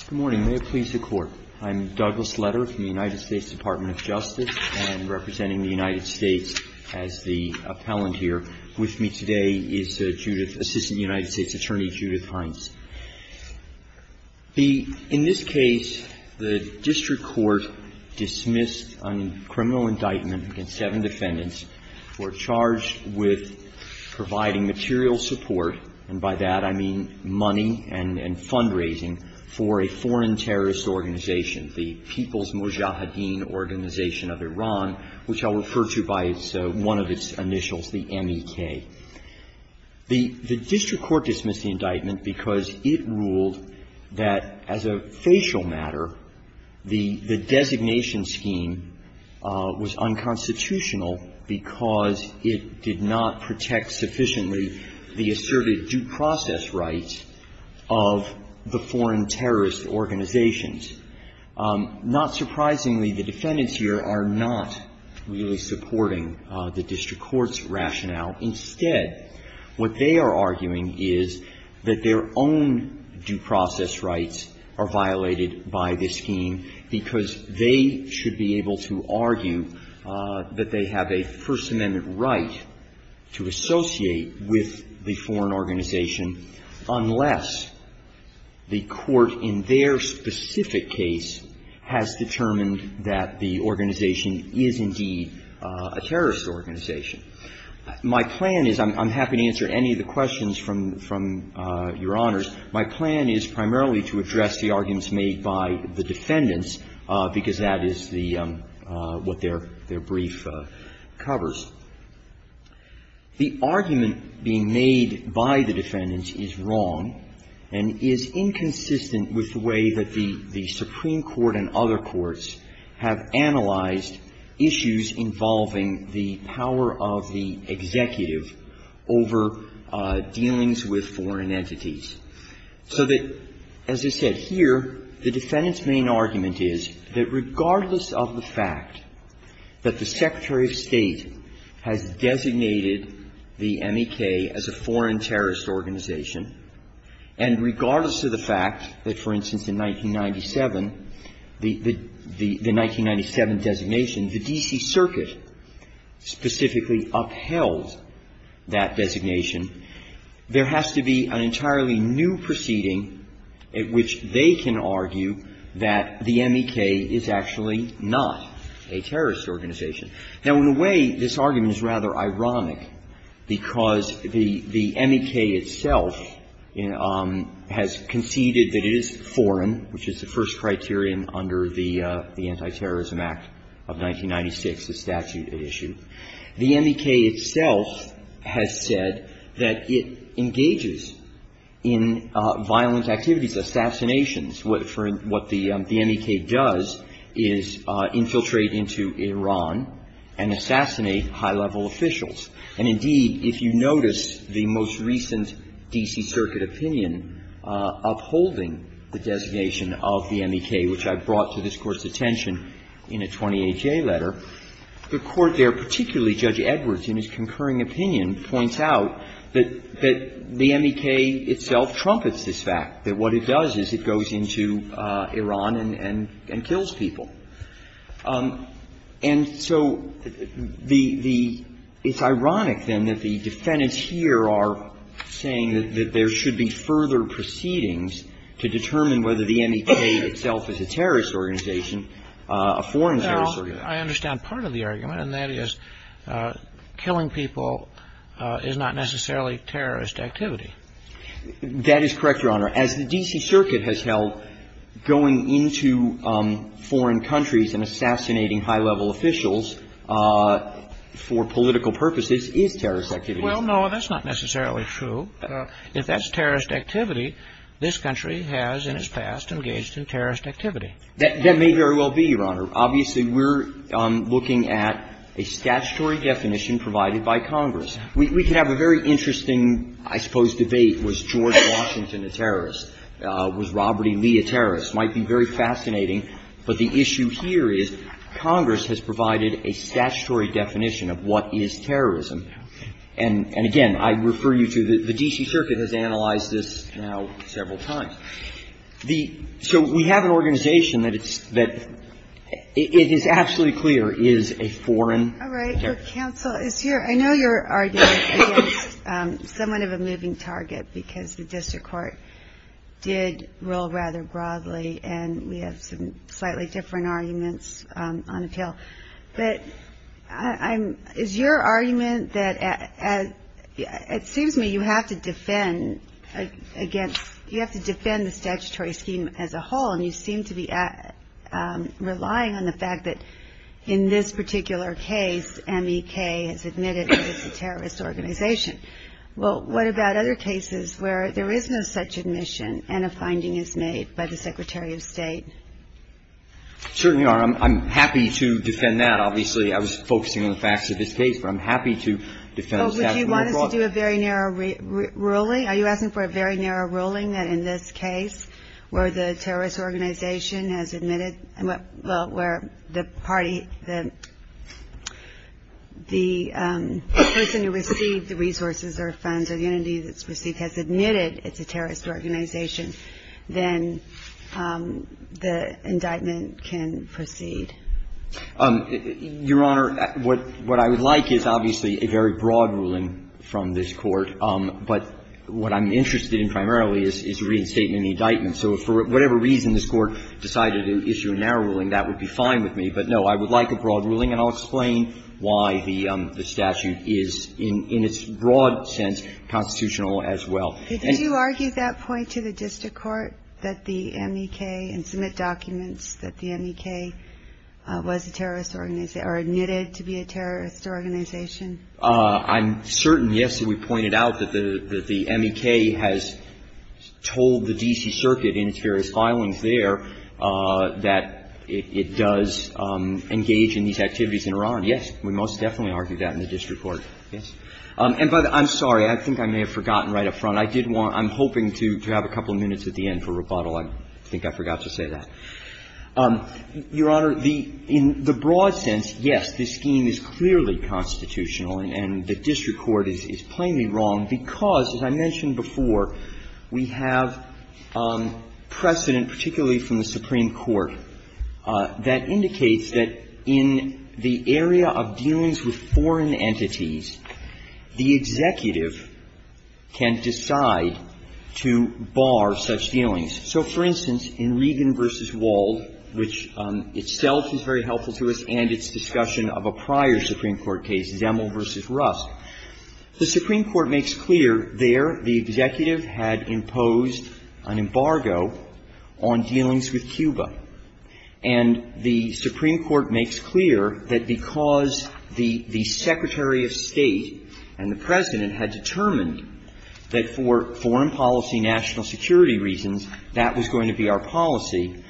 Good morning. May it please the Court. I'm Douglas Leder from the United States Department of Justice and representing the United States as the appellant here. With me today is Assistant United States Attorney Judith Hines. In this case, the district court dismissed a criminal indictment against seven defendants who were charged with providing material support, and by that I mean money and fundraising, for a foreign terrorist organization, the People's Mojahedin Organization of Iran, which I'll refer to by one of its initials, the MEK. The district court dismissed the indictment because it ruled that, as a facial matter, the designation scheme was unconstitutional because it did not protect sufficiently the asserted due process rights of the foreign terrorist organizations. Not surprisingly, the defendants here are not really supporting the district court's rationale. Instead, what they are arguing is that their own due process rights are violated by this scheme because they should be able to argue that they have a First Amendment right to associate with the foreign organization unless the court, in their specific case, has determined that the organization is indeed a terrorist organization. My plan is, I'm happy to answer any of the questions from Your Honors, my plan is primarily to address the arguments made by the defendants because that is the, what their brief covers. The argument being made by the defendants is wrong and is inconsistent with the way that the Supreme Court and other courts have analyzed issues involving the power of the executive over dealings with foreign entities, so that, as I said, here, the defendants' main argument is that regardless of the fact that the Secretary of State has designated the MEK as a foreign terrorist organization, and regardless of the fact that, for instance, in 1997, the 1997 designation, the D.C. Circuit specifically upheld that designation, there has to be an entirely new proceeding at which they can argue that the MEK is actually not a terrorist organization. Now, in a way, this argument is rather ironic because the MEK itself has conceded that it is foreign, which is the first criterion under the Antiterrorism Act of 1996, the statute it issued. The MEK itself has said that it engages in violent activities, assassinations. What the MEK does is infiltrate into Iran and assassinate high-level officials. And, indeed, if you notice the most recent D.C. Circuit opinion upholding the designation of the MEK, which I brought to this Court's attention in a 28-J letter, the Court there, particularly Judge Edwards, in his concurring opinion, points out that the MEK itself trumpets this fact, that what it does is it goes into Iran and assassinates people, and it goes into Iran and kills people. And so the — it's ironic, then, that the defendants here are saying that there should be further proceedings to determine whether the MEK itself is a terrorist organization, a foreign terrorist organization. Well, I understand part of the argument, and that is killing people is not necessarily terrorist activity. That is correct, Your Honor. As the D.C. Circuit has held, going into foreign countries and assassinating high-level officials for political purposes is terrorist activity. Well, no, that's not necessarily true. If that's terrorist activity, this country has in its past engaged in terrorist activity. That may very well be, Your Honor. Obviously, we're looking at a statutory definition provided by Congress. We could have a very interesting, I suppose, debate. Was George Washington a terrorist? Was Robert E. Lee a terrorist? It might be very fascinating, but the issue here is Congress has provided a statutory definition of what is terrorism. And again, I refer you to the D.C. Circuit has analyzed this now several times. The — so we have an organization that it's — that it is absolutely clear is a foreign terrorist. All right. Your counsel is here. I know you're arguing against somewhat of a moving target because the district court did roll rather broadly, and we have some slightly different arguments on appeal. But I'm — is your argument that — it seems to me you have to defend against — you have to defend the statutory scheme as a whole, and you seem to be relying on the fact that in this particular case, M.E.K. has admitted that it's a terrorist organization. Well, what about other cases where there is no such admission and a finding is made by the Secretary of State? Certainly, Your Honor, I'm happy to defend that. Obviously, I was focusing on the facts of this case, but I'm happy to defend the statute more broadly. Well, would you want us to do a very narrow ruling? Really? Are you asking for a very narrow ruling that in this case, where the terrorist organization has admitted — well, where the party — the person who received the resources or funds or the entity that's received has admitted it's a terrorist organization, then the indictment can proceed? Your Honor, what I would like is obviously a very broad ruling from this Court. But what I'm interested in primarily is the reinstatement of the indictment. So if for whatever reason this Court decided to issue a narrow ruling, that would be fine with me. But, no, I would like a broad ruling, and I'll explain why the statute is in its broad sense constitutional as well. Did you argue that point to the district court, that the M.E.K. and submit documents that the M.E.K. was a terrorist organization or admitted to be a terrorist organization? I'm certain, yes, that we pointed out that the M.E.K. has told the D.C. Circuit in its various filings there that it does engage in these activities in Iran, yes. We most definitely argued that in the district court, yes. And, by the way, I'm sorry. I think I may have forgotten right up front. I did want to – I'm hoping to have a couple of minutes at the end for rebuttal. I think I forgot to say that. Your Honor, the – in the broad sense, yes, this scheme is clearly constitutional, and the district court is plainly wrong because, as I mentioned before, we have precedent, particularly from the Supreme Court, that indicates that in the area of dealings with foreign entities, the executive can decide to bar such dealings. So, for instance, in Regan v. Wald, which itself is very helpful to us, and its discussion of a prior Supreme Court case, Zemel v. Rusk, the Supreme Court makes clear there the executive had imposed an embargo on dealings with Cuba. And the Supreme Court makes clear that because the Secretary of State and the President had determined that for foreign policy, national security reasons, that was going to be our policy,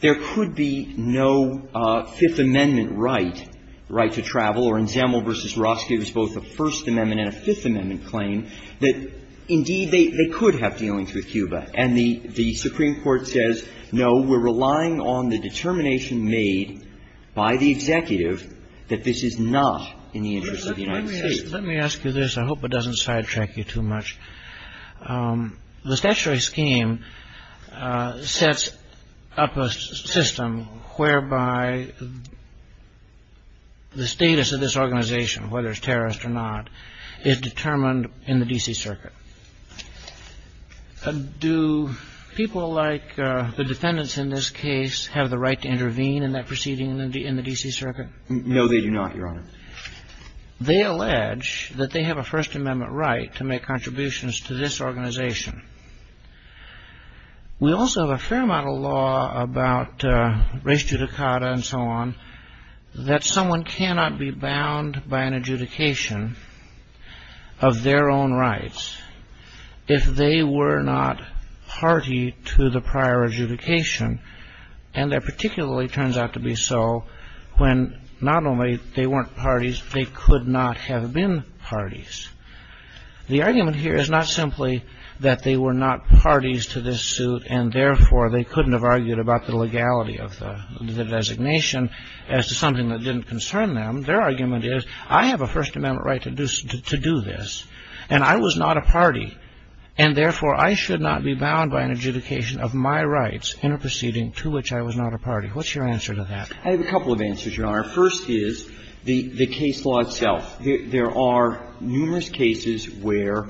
there could be no Fifth Amendment right, right to travel. Or in Zemel v. Rusk, it was both a First Amendment and a Fifth Amendment claim that, indeed, they could have dealings with Cuba. And the Supreme Court says, no, we're relying on the determination made by the executive that this is not in the interest of the United States. Let me ask you this. I hope it doesn't sidetrack you too much. The statutory scheme sets up a system whereby the status of this organization, whether it's terrorist or not, is determined in the D.C. Circuit. Do people like the defendants in this case have the right to intervene in that proceeding in the D.C. Circuit? No, they do not, Your Honor. They allege that they have a First Amendment right to make contributions to this organization. We also have a fair amount of law about res judicata and so on that someone cannot be bound by an adjudication of their own rights if they were not party to the prior adjudication. And that particularly turns out to be so when not only they weren't parties, they could not have been parties. The argument here is not simply that they were not parties to this suit, and therefore they couldn't have argued about the legality of the designation as to something that didn't concern them. Their argument is, I have a First Amendment right to do this, and I was not a party, and therefore I should not be bound by an adjudication of my rights in a proceeding to which I was not a party. What's your answer to that? I have a couple of answers, Your Honor. First is the case law itself. There are numerous cases where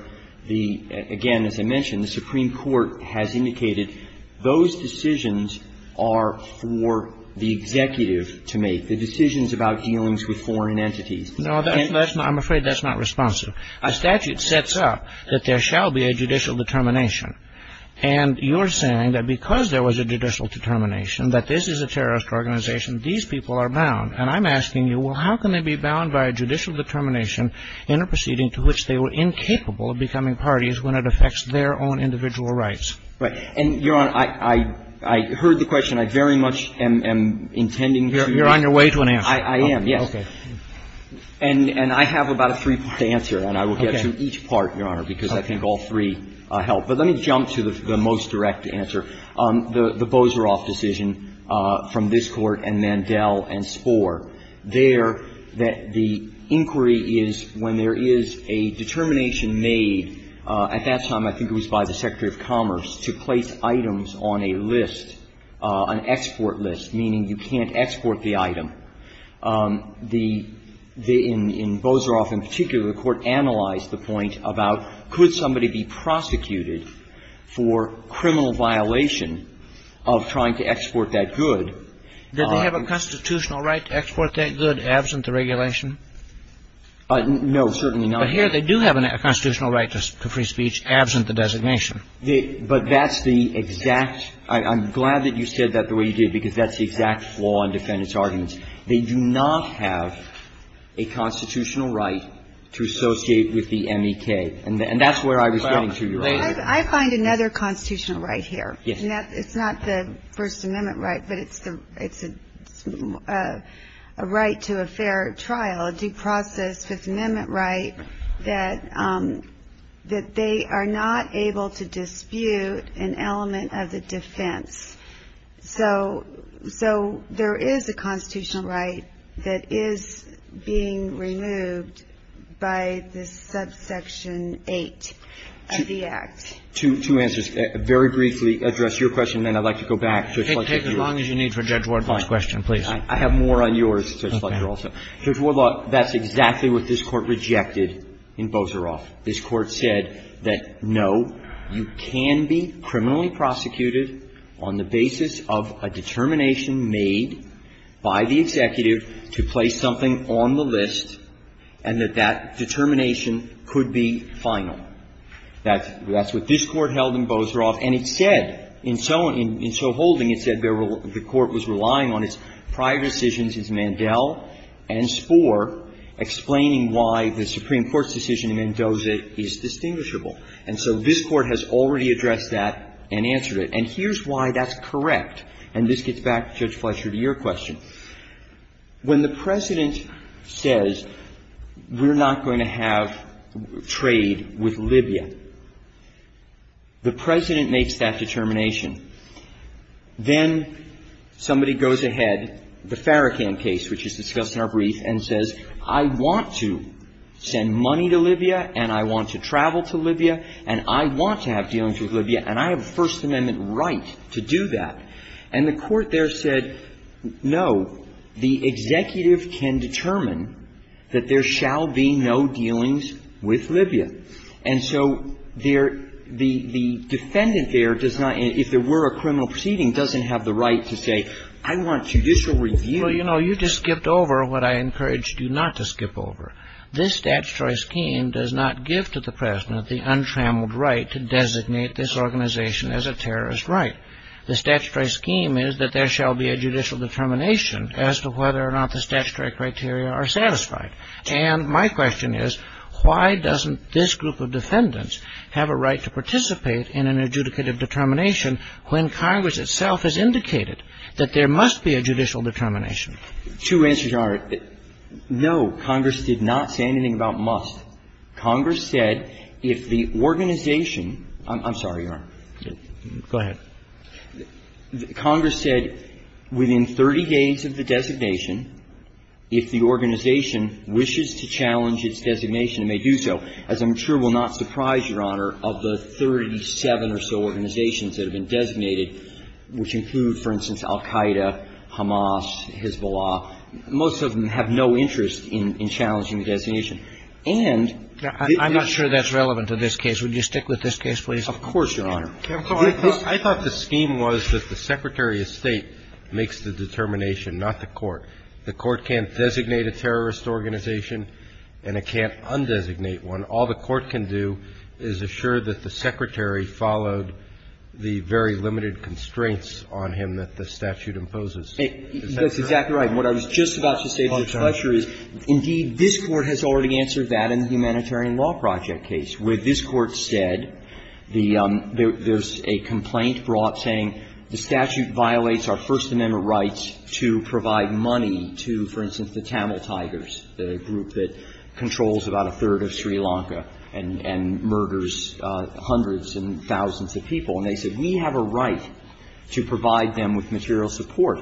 the, again, as I mentioned, the Supreme Court has indicated those decisions are for the executive to make, the decisions about dealings with foreign entities. No, I'm afraid that's not responsive. A statute sets up that there shall be a judicial determination. And you're saying that because there was a judicial determination that this is a terrorist organization, these people are bound. And I'm asking you, well, how can they be bound by a judicial determination in a proceeding to which they were incapable of becoming parties when it affects their own individual rights? Right. And, Your Honor, I heard the question. I very much am intending to use it. You're on your way to an answer. I am, yes. Okay. And I have about a three-part answer. Okay. And I will get to each part, Your Honor, because I think all three help. But let me jump to the most direct answer. The Boseroff decision from this Court and Mandel and Spohr, there that the inquiry is when there is a determination made, at that time I think it was by the Secretary of Commerce, to place items on a list, an export list, meaning you can't export the item. The — in Boseroff in particular, the Court analyzed the point about could somebody be prosecuted for criminal violation of trying to export that good. Did they have a constitutional right to export that good absent the regulation? No, certainly not. But here they do have a constitutional right to free speech absent the designation. But that's the exact — I'm glad that you said that the way you did because that's the exact flaw in defendants' arguments. They do not have a constitutional right to associate with the MEK. And that's where I was getting to, Your Honor. Well, I find another constitutional right here. Yes. It's not the First Amendment right, but it's a right to a fair trial, a due process Fifth Amendment right that they are not able to dispute an element of the defense. So there is a constitutional right that is being removed by this subsection 8 of the Act. Two answers. Very briefly, address your question, and then I'd like to go back. Take as long as you need for Judge Wardlaw's question, please. Fine. I have more on yours, Judge Fletcher, also. Judge Wardlaw, that's exactly what this Court rejected in Boseroff. This Court said that, no, you can be criminally prosecuted on the basis of a determination made by the executive to place something on the list and that that determination could be final. That's what this Court held in Boseroff. And it said in so holding, it said the Court was relying on its prior decisions, its Mandel and Spohr, explaining why the Supreme Court's decision in Mendoza is distinguishable. And so this Court has already addressed that and answered it. And here's why that's correct. And this gets back, Judge Fletcher, to your question. When the President says we're not going to have trade with Libya, the President makes that determination. Then somebody goes ahead, the Farrakhan case, which is discussed in our brief, and says, I want to send money to Libya, and I want to travel to Libya, and I want to have dealings with Libya, and I have a First Amendment right to do that. And the Court there said, no, the executive can determine that there shall be no dealings with Libya. And so the defendant there does not, if there were a criminal proceeding, doesn't have the right to say, I want judicial review. Well, you know, you just skipped over what I encouraged you not to skip over. This statutory scheme does not give to the President the untrammeled right to designate this organization as a terrorist right. The statutory scheme is that there shall be a judicial determination as to whether or not the statutory criteria are satisfied. And my question is, why doesn't this group of defendants have a right to participate in an adjudicative determination when Congress itself has indicated that there must be a judicial determination? Two answers are, no, Congress did not say anything about must. Congress said if the organization – I'm sorry, Your Honor. Go ahead. Congress said within 30 days of the designation, if the organization wishes to challenge its designation, it may do so. As I'm sure will not surprise Your Honor, of the 37 or so organizations that have been designated, which include, for instance, Al Qaeda, Hamas, Hezbollah, most of them have no interest in challenging the designation. And I'm not sure that's relevant to this case. Would you stick with this case, please? Of course, Your Honor. I thought the scheme was that the Secretary of State makes the determination, not the court. The court can't designate a terrorist organization and it can't undesignate one. All the court can do is assure that the Secretary followed the very limited constraints on him that the statute imposes. Is that correct? That's exactly right. And what I was just about to say, Mr. Fletcher, is indeed this Court has already answered that in the Humanitarian Law Project case, where this Court said the – there's a complaint brought saying the statute violates our First Amendment rights to provide money to, for instance, the Tamil Tigers, the group that controls about a third of Sri Lanka and murders hundreds and thousands of people. And they said we have a right to provide them with material support.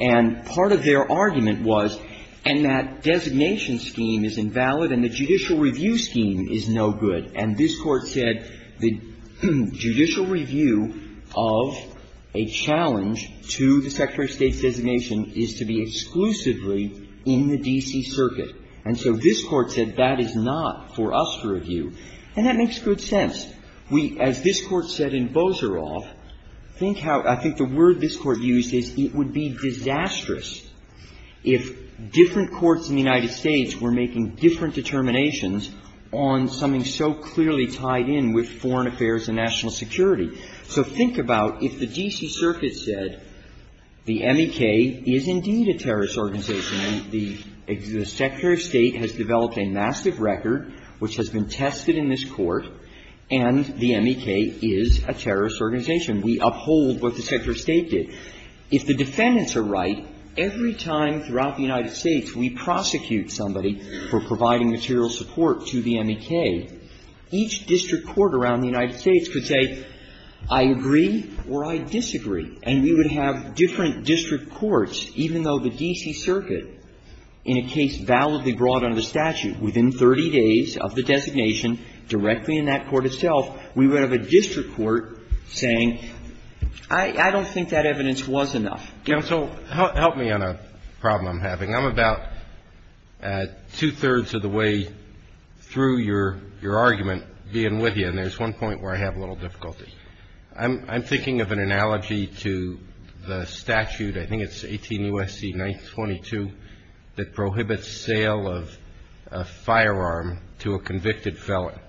And part of their argument was, and that designation scheme is invalid and the judicial review scheme is no good. And this Court said the judicial review of a challenge to the Secretary of State's designation is to be exclusively in the D.C. Circuit. And so this Court said that is not for us to review. And that makes good sense. As this Court said in Bozharov, think how – I think the word this Court used is it would be disastrous if different courts in the United States were making different determinations on something so clearly tied in with foreign affairs and national security. So think about if the D.C. Circuit said the MEK is indeed a terrorist organization and the Secretary of State has developed a massive record which has been tested in this Court, and the MEK is a terrorist organization. We uphold what the Secretary of State did. If the defendants are right, every time throughout the United States we prosecute somebody for providing material support to the MEK, each district court around the United States could say I agree or I disagree, and we would have different district courts, even though the D.C. Circuit in a case validly brought under the statute within 30 days of the designation directly in that court itself, we would have a district court saying I don't think that evidence was enough. So help me on a problem I'm having. I'm about two-thirds of the way through your argument being with you, and there's one point where I have a little difficulty. I'm thinking of an analogy to the statute, I think it's 18 U.S.C. 922, that prohibits sale of a firearm to a convicted felon.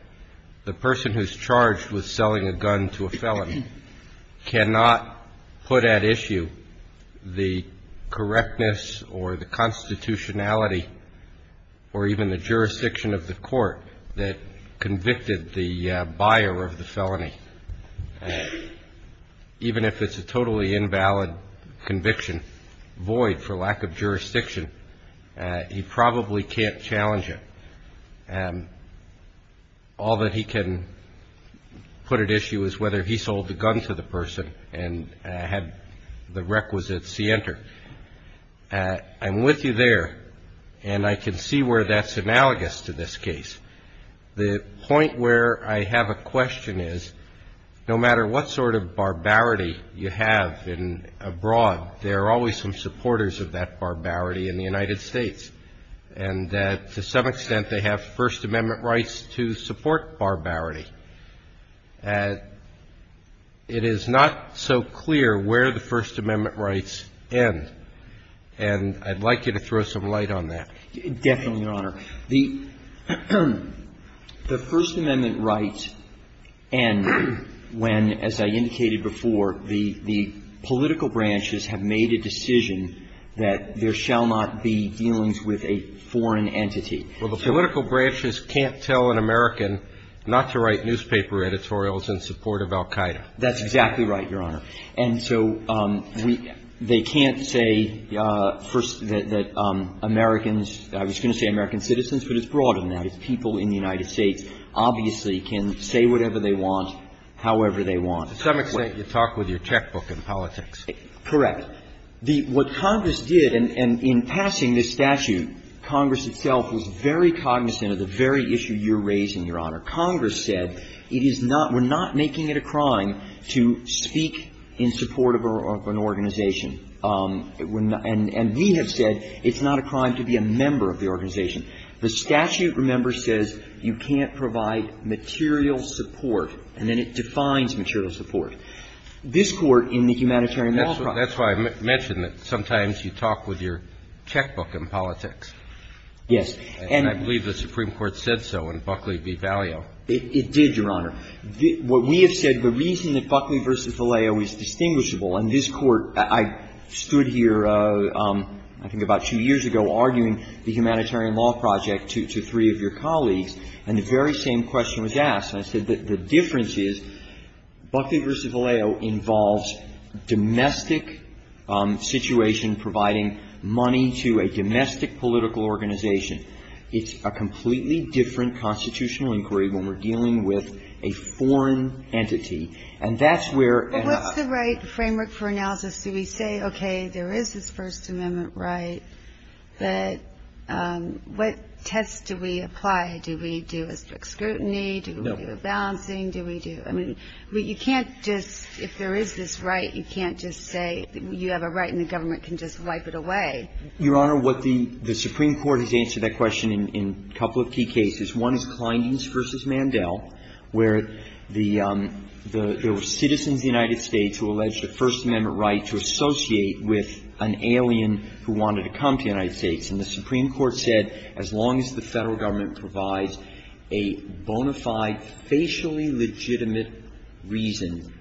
The person who's charged with selling a gun to a felon cannot put at issue the correctness or the constitutionality or even the jurisdiction of the court that convicted the buyer of the felony, even if it's a totally invalid conviction, void for lack of jurisdiction. He probably can't challenge it. All that he can put at issue is whether he sold the gun to the person and had the requisite see enter. I'm with you there, and I can see where that's analogous to this case. The point where I have a question is no matter what sort of barbarity you have abroad, there are always some supporters of that barbarity in the United States, and to some extent they have First Amendment rights to support barbarity. It is not so clear where the First Amendment rights end, and I'd like you to throw some light on that. Definitely, Your Honor. The First Amendment rights end when, as I indicated before, the political branches have made a decision that there shall not be dealings with a foreign entity. Well, the political branches can't tell an American not to write newspaper editorials in support of al Qaeda. That's exactly right, Your Honor. And so they can't say, first, that Americans – I was going to say American citizens, but it's broader than that. It's people in the United States obviously can say whatever they want, however they want. To some extent, you talk with your checkbook in politics. Correct. The – what Congress did, and in passing this statute, Congress itself was very cognizant of the very issue you're raising, Your Honor. Congress said it is not – we're not making it a crime to speak in support of an organization. And we have said it's not a crime to be a member of the organization. The statute, remember, says you can't provide material support, and then it defines material support. This Court in the Humanitarian Law Project – That's why I mentioned that sometimes you talk with your checkbook in politics. Yes. And I believe the Supreme Court said so in Buckley v. Vallejo. It did, Your Honor. What we have said, the reason that Buckley v. Vallejo is distinguishable, and this Court – I stood here I think about two years ago arguing the Humanitarian I said the difference is Buckley v. Vallejo involves domestic situation providing money to a domestic political organization. It's a completely different constitutional inquiry when we're dealing with a foreign entity. And that's where – But what's the right framework for analysis? Do we say, okay, there is this First Amendment right, but what tests do we apply? Do we do a strict scrutiny? Do we do a balancing? Do we do – I mean, you can't just – if there is this right, you can't just say you have a right and the government can just wipe it away. Your Honor, what the Supreme Court has answered that question in a couple of key cases. One is Clyndon v. Mandel, where there were citizens of the United States who alleged a First Amendment right to associate with an alien who wanted to come to the United a bona fide, facially legitimate reason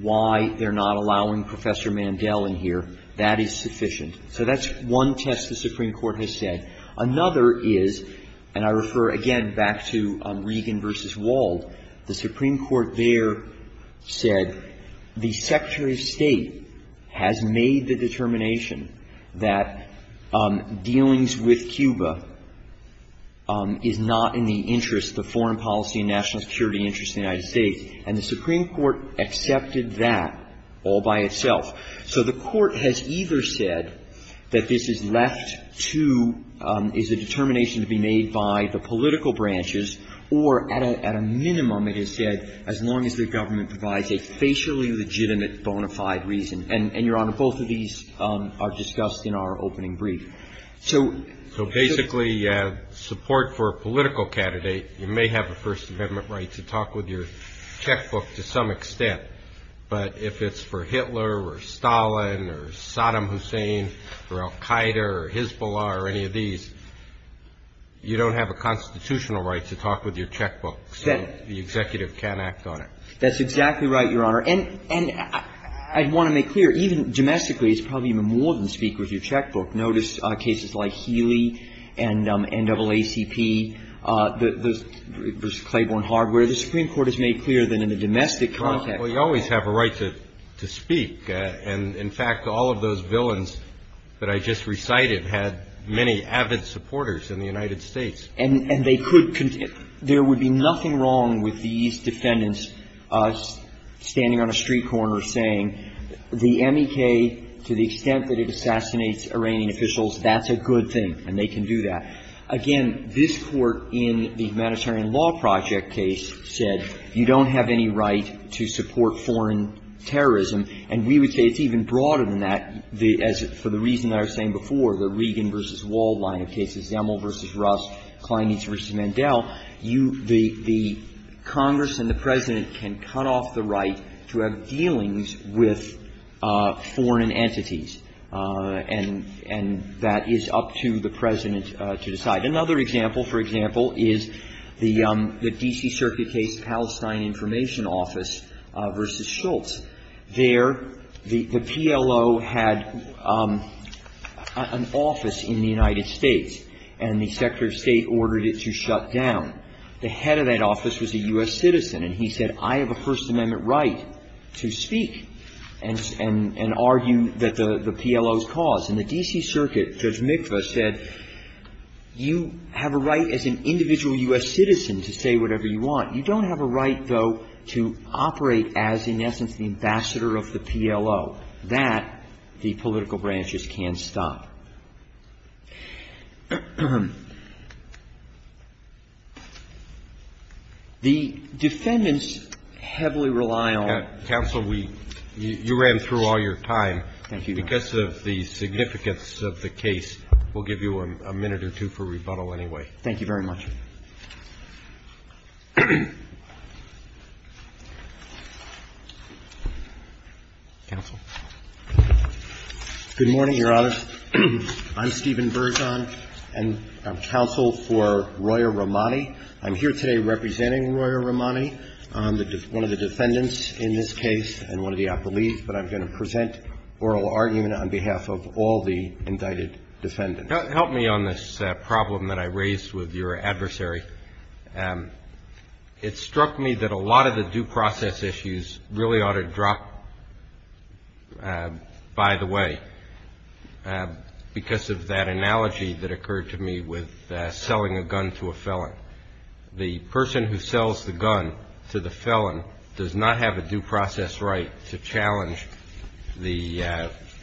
why they're not allowing Professor Mandel in here. That is sufficient. So that's one test the Supreme Court has said. Another is – and I refer again back to Regan v. Wald. The Supreme Court there said the Secretary of State has made the determination that dealings with Cuba is not in the interest, the foreign policy and national security interest of the United States. And the Supreme Court accepted that all by itself. So the Court has either said that this is left to – is a determination to be made by the political branches, or at a minimum it has said as long as the government provides a facially legitimate bona fide reason. And, Your Honor, both of these are discussed in our opening brief. So – So basically, support for a political candidate, you may have a First Amendment right to talk with your checkbook to some extent. But if it's for Hitler or Stalin or Saddam Hussein or al-Qaeda or Hezbollah or any of these, you don't have a constitutional right to talk with your checkbook. So the executive can't act on it. That's exactly right, Your Honor. And I'd want to make clear, even domestically, it's probably even more than speak with your checkbook. Notice cases like Healy and NAACP, the – versus Claiborne Hardware. The Supreme Court has made clear that in a domestic context – Well, you always have a right to speak. And, in fact, all of those villains that I just recited had many avid supporters in the United States. And they could – there would be nothing wrong with these defendants standing on a street corner saying, the MEK, to the extent that it assassinates Iranian officials, that's a good thing, and they can do that. Again, this Court in the Humanitarian Law Project case said you don't have any right to support foreign terrorism. And we would say it's even broader than that, for the reason I was saying before, the Regan v. Wald line of cases, Zemel v. Russ, Kleinitz v. Mandel, you – the Congress and the President can cut off the right to have dealings with foreign entities, and that is up to the President to decide. Another example, for example, is the D.C. Circuit case, Palestine Information Office v. Schultz. There, the PLO had an office in the United States, and the Secretary of State ordered it to shut down. The head of that office was a U.S. citizen, and he said, I have a First Amendment right to speak and argue that the PLO's cause. In the D.C. Circuit, Judge Mikva said, you have a right as an individual U.S. citizen to say whatever you want. You don't have a right, though, to operate as, in essence, the ambassador of the PLO. That, the political branches can't stop. The defendants heavily rely on – Counsel, we – you ran through all your time. Thank you, Your Honor. Because of the significance of the case, we'll give you a minute or two for rebuttal anyway. Thank you very much. Counsel. Good morning, Your Honors. I'm Stephen Bergeon, and I'm counsel for Royer-Romani. I'm here today representing Royer-Romani, one of the defendants in this case and one of the appellees, but I'm going to present oral argument on behalf of all the indicted defendants. Help me on this problem that I raised with your adversary. It struck me that a lot of the due process issues really ought to drop by the way because of that analogy that occurred to me with selling a gun to a felon. The person who sells the gun to the felon does not have a due process right to challenge the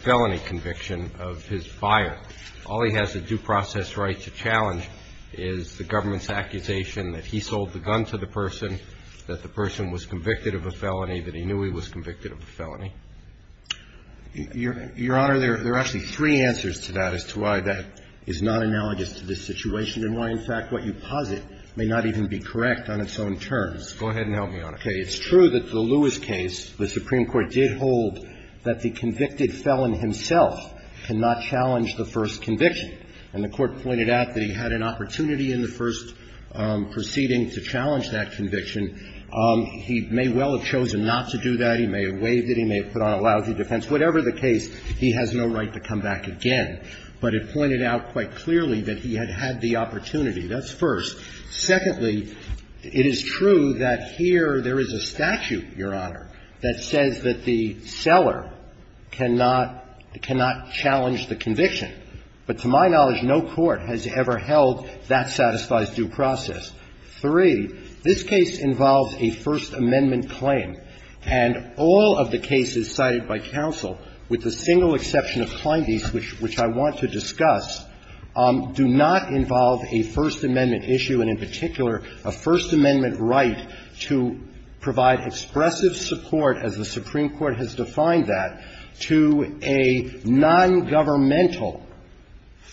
felony conviction of his buyer. All he has a due process right to challenge is the government's accusation that he sold the gun to the person, that the person was convicted of a felony, that he knew he was convicted of a felony. Your Honor, there are actually three answers to that as to why that is not analogous to this situation and why, in fact, what you posit may not even be correct on its own terms. Go ahead and help me on it. Okay. It's true that the Lewis case, the Supreme Court did hold that the convicted felon himself cannot challenge the first conviction, and the Court pointed out that he had an opportunity in the first proceeding to challenge that conviction. He may well have chosen not to do that. He may have waived it. He may have put on a lousy defense. Whatever the case, he has no right to come back again. But it pointed out quite clearly that he had had the opportunity. That's first. Secondly, it is true that here there is a statute, Your Honor, that says that the seller cannot challenge the conviction. But to my knowledge, no court has ever held that satisfies due process. Three, this case involves a First Amendment claim. And all of the cases cited by counsel, with the single exception of Clindy's, which I want to discuss, do not involve a First Amendment issue, and in particular a First Amendment right to provide expressive support, as the Supreme Court has defined that, to a nongovernmental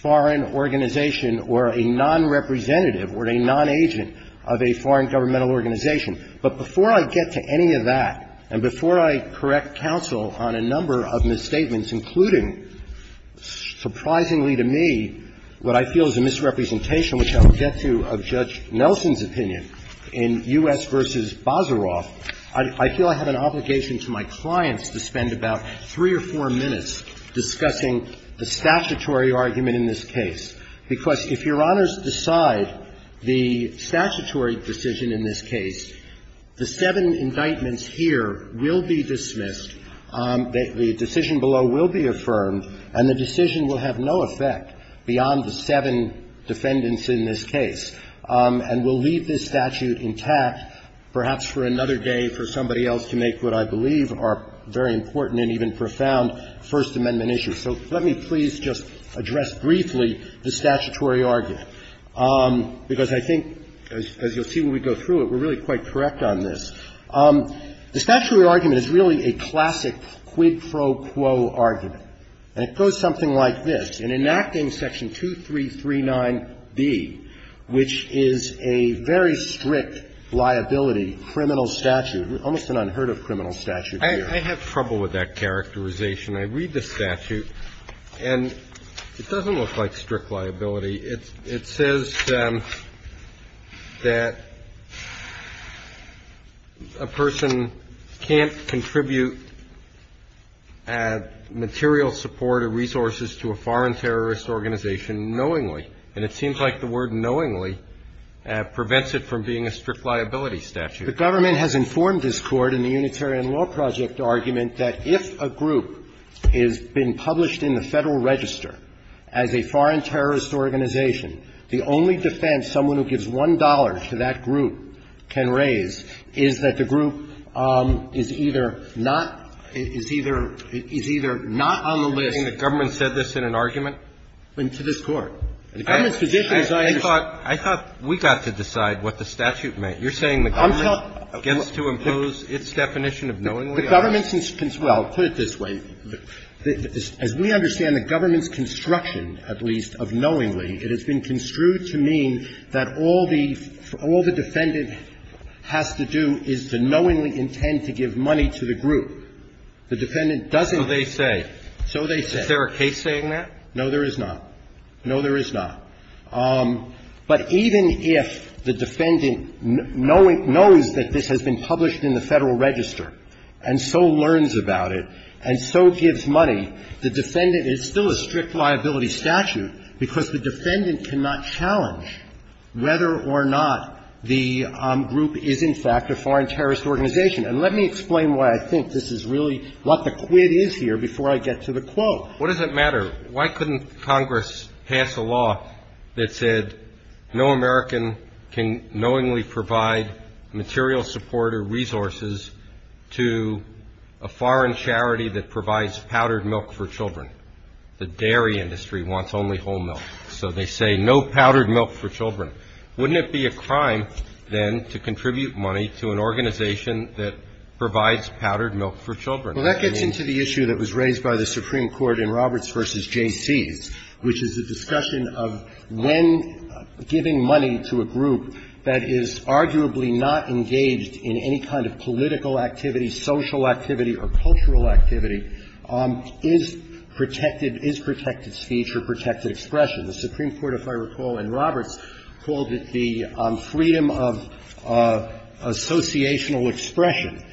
foreign organization or a nonrepresentative or a nonagent of a foreign governmental organization. But before I get to any of that, and before I correct counsel on a number of misstatements, including, surprisingly to me, what I feel is a misrepresentation, which I will get to, of Judge Nelson's opinion, in U.S. v. Bazaroff, I feel I have an obligation to my clients to spend about three or four minutes discussing the statutory argument in this case. Because if Your Honors decide the statutory decision in this case, the seven indictments here will be dismissed, the decision below will be affirmed, and the decision will have no effect beyond the seven defendants in this case, and will leave this statute intact perhaps for another day for somebody else to make what I believe are very important and even profound First Amendment issues. So let me please just address briefly the statutory argument, because I think, as you'll see when we go through it, we're really quite correct on this. The statutory argument is really a classic quid pro quo argument, and it goes something like this. In enacting Section 2339b, which is a very strict liability criminal statute, almost an unheard of criminal statute here. I have trouble with that characterization. I read the statute, and it doesn't look like strict liability. It says that a person can't contribute material support or resources to a foreign terrorist organization knowingly, and it seems like the word knowingly prevents it from being a strict liability statute. The government has informed this Court in the Unitarian Law Project argument that if a group has been published in the Federal Register as a foreign terrorist organization, the only defense someone who gives $1.00 to that group can raise is that the group is either not, is either, is either not on the list. And the government said this in an argument? To this Court. The government's position is I just. I thought we got to decide what the statute meant. You're saying the government gets to impose its definition of knowingly? The government's, well, I'll put it this way. As we understand the government's construction, at least, of knowingly, it has been construed to mean that all the defendant has to do is to knowingly intend to give money to the group. The defendant doesn't. So they say. So they say. Is there a case saying that? No, there is not. No, there is not. But even if the defendant knows that this has been published in the Federal Register and so learns about it and so gives money, the defendant is still a strict liability statute because the defendant cannot challenge whether or not the group is, in fact, a foreign terrorist organization. And let me explain why I think this is really what the quid is here before I get to the quote. What does it matter? Why couldn't Congress pass a law that said no American can knowingly provide material support or resources to a foreign charity that provides powdered milk for children? The dairy industry wants only whole milk. So they say no powdered milk for children. Wouldn't it be a crime, then, to contribute money to an organization that provides powdered milk for children? I mean. Well, that gets into the issue that was raised by the Supreme Court in Roberts v. Jaycees, which is the discussion of when giving money to a group that is arguably not engaged in any kind of political activity, social activity, or cultural activity is protected, is protected speech or protected expression. The Supreme Court, if I recall in Roberts, called it the freedom of associational expression.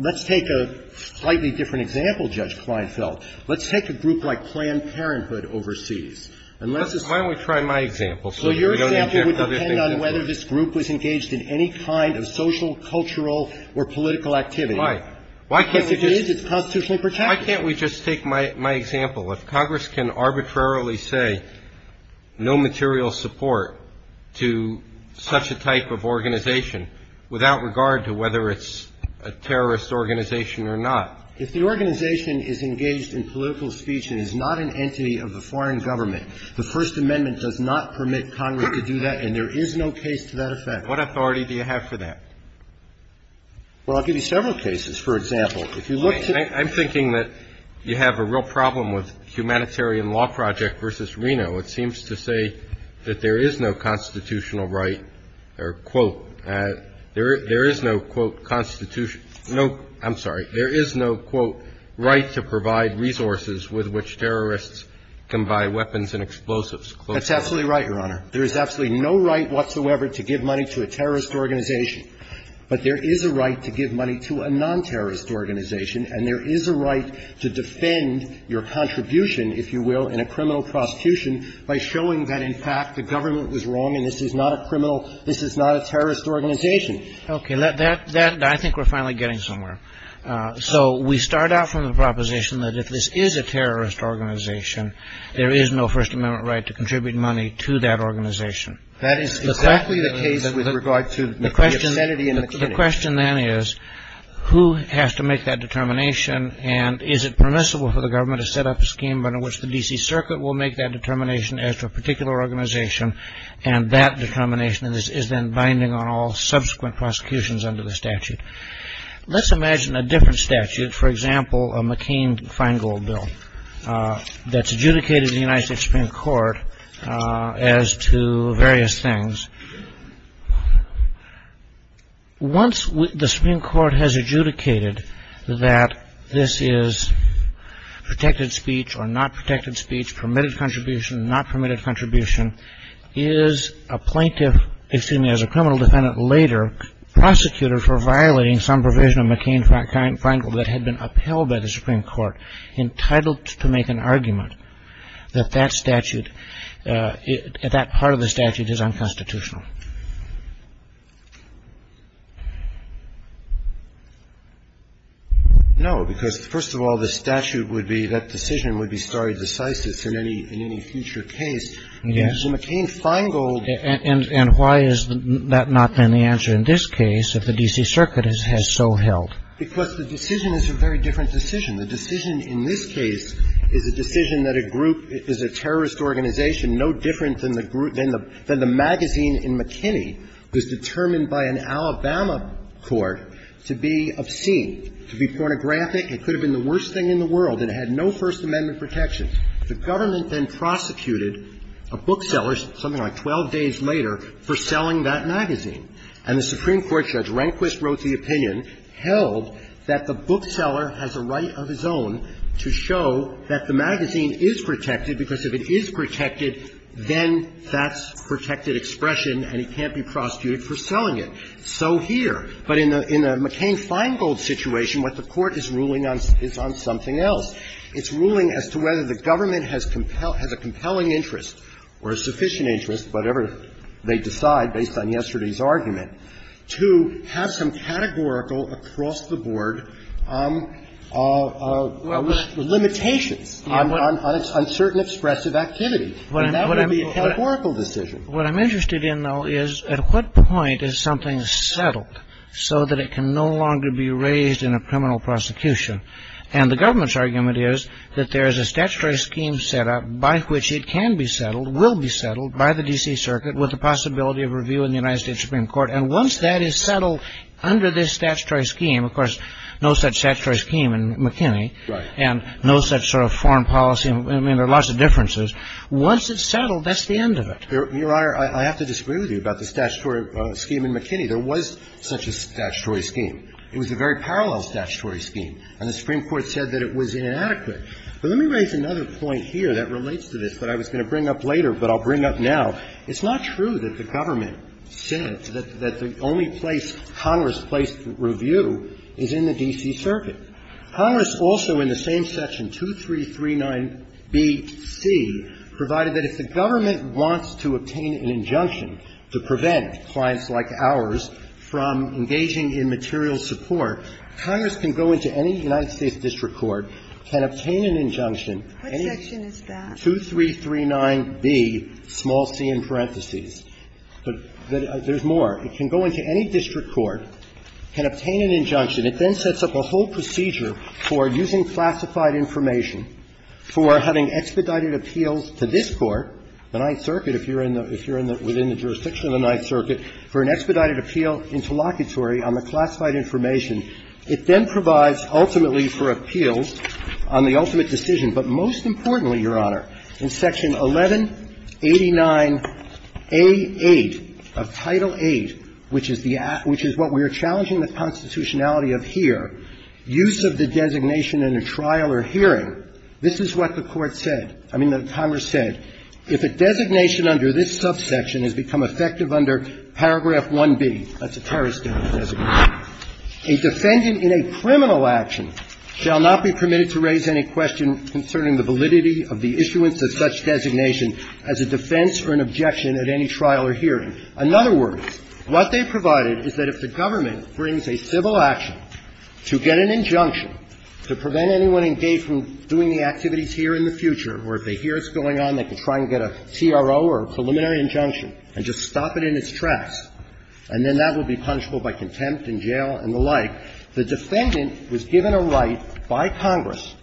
Let's take a slightly different example, Judge Kleinfeld. Let's take a group like Planned Parenthood overseas. And let's just say. Why don't we try my example? So your example would depend on whether this group was engaged in any kind of social, cultural, or political activity. If it is, it's constitutionally protected. Why can't we just take my example? If Congress can arbitrarily say no material support to such a type of organization without regard to whether it's a terrorist organization or not. If the organization is engaged in political speech and is not an entity of the foreign government, the First Amendment does not permit Congress to do that and there is no case to that effect. What authority do you have for that? Well, I'll give you several cases. For example, if you look to. I'm thinking that you have a real problem with Humanitarian Law Project v. Reno. It seems to say that there is no constitutional right or, quote, there is no, quote, constitution. No, I'm sorry. There is no, quote, right to provide resources with which terrorists can buy weapons and explosives. That's absolutely right, Your Honor. There is absolutely no right whatsoever to give money to a terrorist organization. But there is a right to give money to a non-terrorist organization and there is a right to defend your contribution, if you will, in a criminal prosecution by showing that, in fact, the government was wrong and this is not a criminal, this is not a terrorist organization. Okay. I think we're finally getting somewhere. So we start out from the proposition that if this is a terrorist organization, there is no First Amendment right to contribute money to that organization. That is exactly the case with regard to the obscenity in the committee. The question then is who has to make that determination and is it permissible for the government to set up a scheme under which the D.C. Circuit will make that determination as to a particular organization and that determination is then binding on all subsequent prosecutions under the statute. Let's imagine a different statute, for example, a McCain-Feingold bill that's adjudicated in the United States Supreme Court as to various things. Once the Supreme Court has adjudicated that this is protected speech or not protected speech, permitted contribution, not permitted contribution, is a plaintiff, excuse me, as a criminal defendant later prosecuted for violating some provision of McCain-Feingold that had been upheld by the Supreme Court entitled to make an argument that that statute at that part of the statute is unconstitutional? No, because first of all, the statute would be, that decision would be stare decisis in any future case. And so McCain-Feingold. And why has that not been the answer in this case if the D.C. Circuit has so held? Because the decision is a very different decision. The decision in this case is a decision that a group, is a terrorist organization no different than the magazine in McKinney, was determined by an Alabama court to be obscene, to be pornographic. It could have been the worst thing in the world. It had no First Amendment protections. The government then prosecuted a bookseller, something like 12 days later, for selling that magazine. And the Supreme Court judge Rehnquist wrote the opinion held that the bookseller has a right of his own to show that the magazine is protected, because if it is protected, then that's protected expression and he can't be prosecuted for selling it. So here. But in the McCain-Feingold situation, what the Court is ruling is on something else. It's ruling as to whether the government has a compelling interest or a sufficient interest, whatever they decide based on yesterday's argument, to have some categorical across-the-board limitations on certain expressive activity. And that would be a categorical decision. What I'm interested in, though, is at what point is something settled so that it can no longer be raised in a criminal prosecution? And the government's argument is that there is a statutory scheme set up by which it can be settled, will be settled by the D.C. Circuit with the possibility of review in the United States Supreme Court. And once that is settled under this statutory scheme, of course, no such statutory scheme in McKinney. Right. And no such sort of foreign policy. I mean, there are lots of differences. Once it's settled, that's the end of it. Your Honor, I have to disagree with you about the statutory scheme in McKinney. There was such a statutory scheme. It was a very parallel statutory scheme. And the Supreme Court said that it was inadequate. But let me raise another point here that relates to this that I was going to bring up later, but I'll bring up now. It's not true that the government said that the only place Congress placed review is in the D.C. Circuit. Congress also, in the same section, 2339bc, provided that if the government wants to obtain an injunction to prevent clients like ours from engaging in material support, Congress can go into any United States district court, can obtain an injunction What section is that? 2339b, small c in parentheses. But there's more. It can go into any district court, can obtain an injunction. It then sets up a whole procedure for using classified information, for having expedited appeals to this Court, the Ninth Circuit, if you're in the – if you're within the jurisdiction of the Ninth Circuit, for an expedited appeal interlocutory on the classified information. It then provides, ultimately, for appeals on the ultimate decision. But most importantly, Your Honor, in Section 1189a8 of Title VIII, which is the – which is what we are challenging the constitutionality of here, use of the designation in a trial or hearing, this is what the Court said – I mean, that Congress said. If a designation under this subsection has become effective under paragraph 1b, that's A defendant in a criminal action shall not be permitted to raise any question concerning the validity of the issuance of such designation as a defense or an objection at any trial or hearing. In other words, what they provided is that if the government brings a civil action to get an injunction to prevent anyone engaged in doing the activities here in the future, or if they hear it's going on, they can try and get a CRO or a preliminary injunction and just stop it in its tracks, and then that will be punishable by contempt in jail and the like. The defendant was given a right by Congress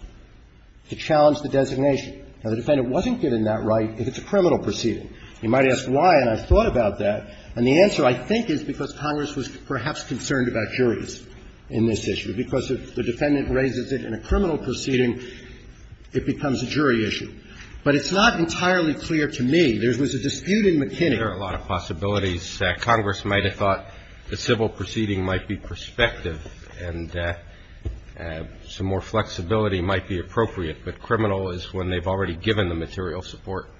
to challenge the designation. Now, the defendant wasn't given that right if it's a criminal proceeding. You might ask why, and I've thought about that, and the answer, I think, is because Congress was perhaps concerned about juries in this issue, because if the defendant raises it in a criminal proceeding, it becomes a jury issue. But it's not entirely clear to me. There was a dispute in McKinney. There are a lot of possibilities. Congress might have thought the civil proceeding might be prospective and some more flexibility might be appropriate, but criminal is when they've already given the material support.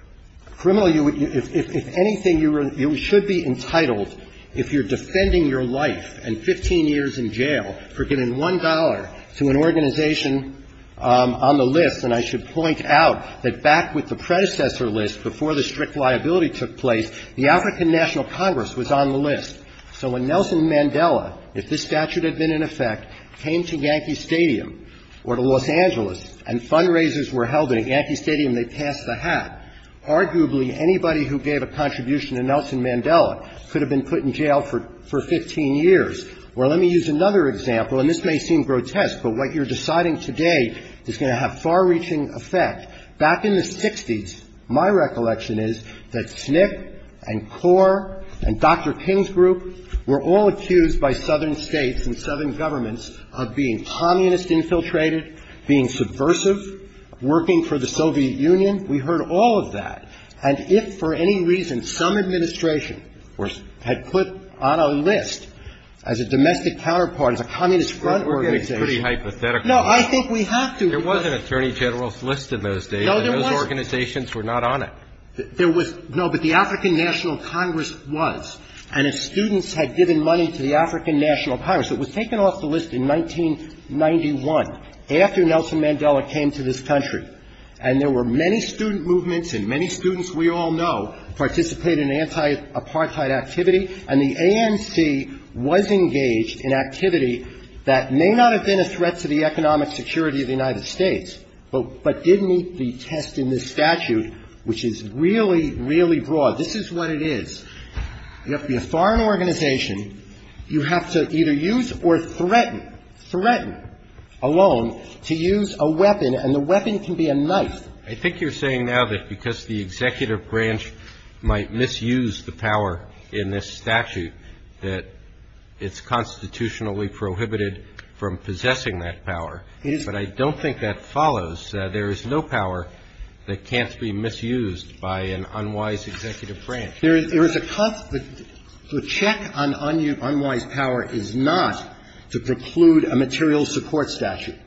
Criminal, if anything, you should be entitled if you're defending your life and 15 years in jail for giving $1 to an organization on the list, and I should point out that back with the predecessor list, before the strict liability took place, the African National Congress was on the list. So when Nelson Mandela, if this statute had been in effect, came to Yankee Stadium or to Los Angeles and fundraisers were held at Yankee Stadium, they passed the hat. Arguably, anybody who gave a contribution to Nelson Mandela could have been put in jail for 15 years. Well, let me use another example, and this may seem grotesque, but what you're deciding today is going to have far-reaching effect. Back in the 60s, my recollection is that SNCC and CORE and Dr. King's group were all accused by southern states and southern governments of being communist infiltrated, being subversive, working for the Soviet Union. We heard all of that. And if for any reason some administration had put on a list as a domestic counterpart, as a communist front organization. I think it's pretty hypothetical. No, I think we have to. There was an attorney general's list in those days. No, there wasn't. And those organizations were not on it. There was. No, but the African National Congress was. And if students had given money to the African National Congress. It was taken off the list in 1991, after Nelson Mandela came to this country. And there were many student movements and many students we all know participated in anti-apartheid activity. And the ANC was engaged in activity that may not have been a threat to the economic security of the United States, but did meet the test in this statute, which is really, really broad. This is what it is. You have to be a foreign organization. You have to either use or threaten, threaten alone, to use a weapon. And the weapon can be a knife. I think you're saying now that because the executive branch might misuse the power in this statute, that it's constitutionally prohibited from possessing that power. It is. But I don't think that follows. There is no power that can't be misused by an unwise executive branch. There is a constant. The check on unwise power is not to preclude a material support statute.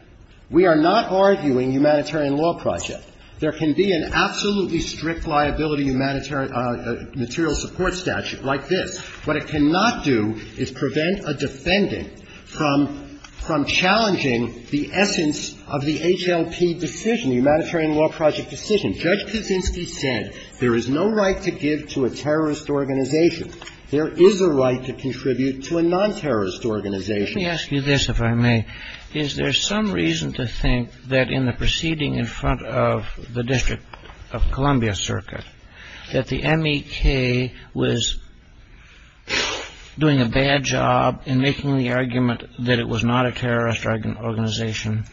We are not arguing humanitarian law project. There can be an absolutely strict liability material support statute like this. What it cannot do is prevent a defendant from challenging the essence of the HLP decision, the humanitarian law project decision. Judge Kaczynski said there is no right to give to a terrorist organization. There is a right to contribute to a non-terrorist organization. Let me ask you this, if I may. Is there some reason to think that in the proceeding in front of the District of Columbia Circuit, that the MEK was doing a bad job in making the argument that it was not a terrorist organization?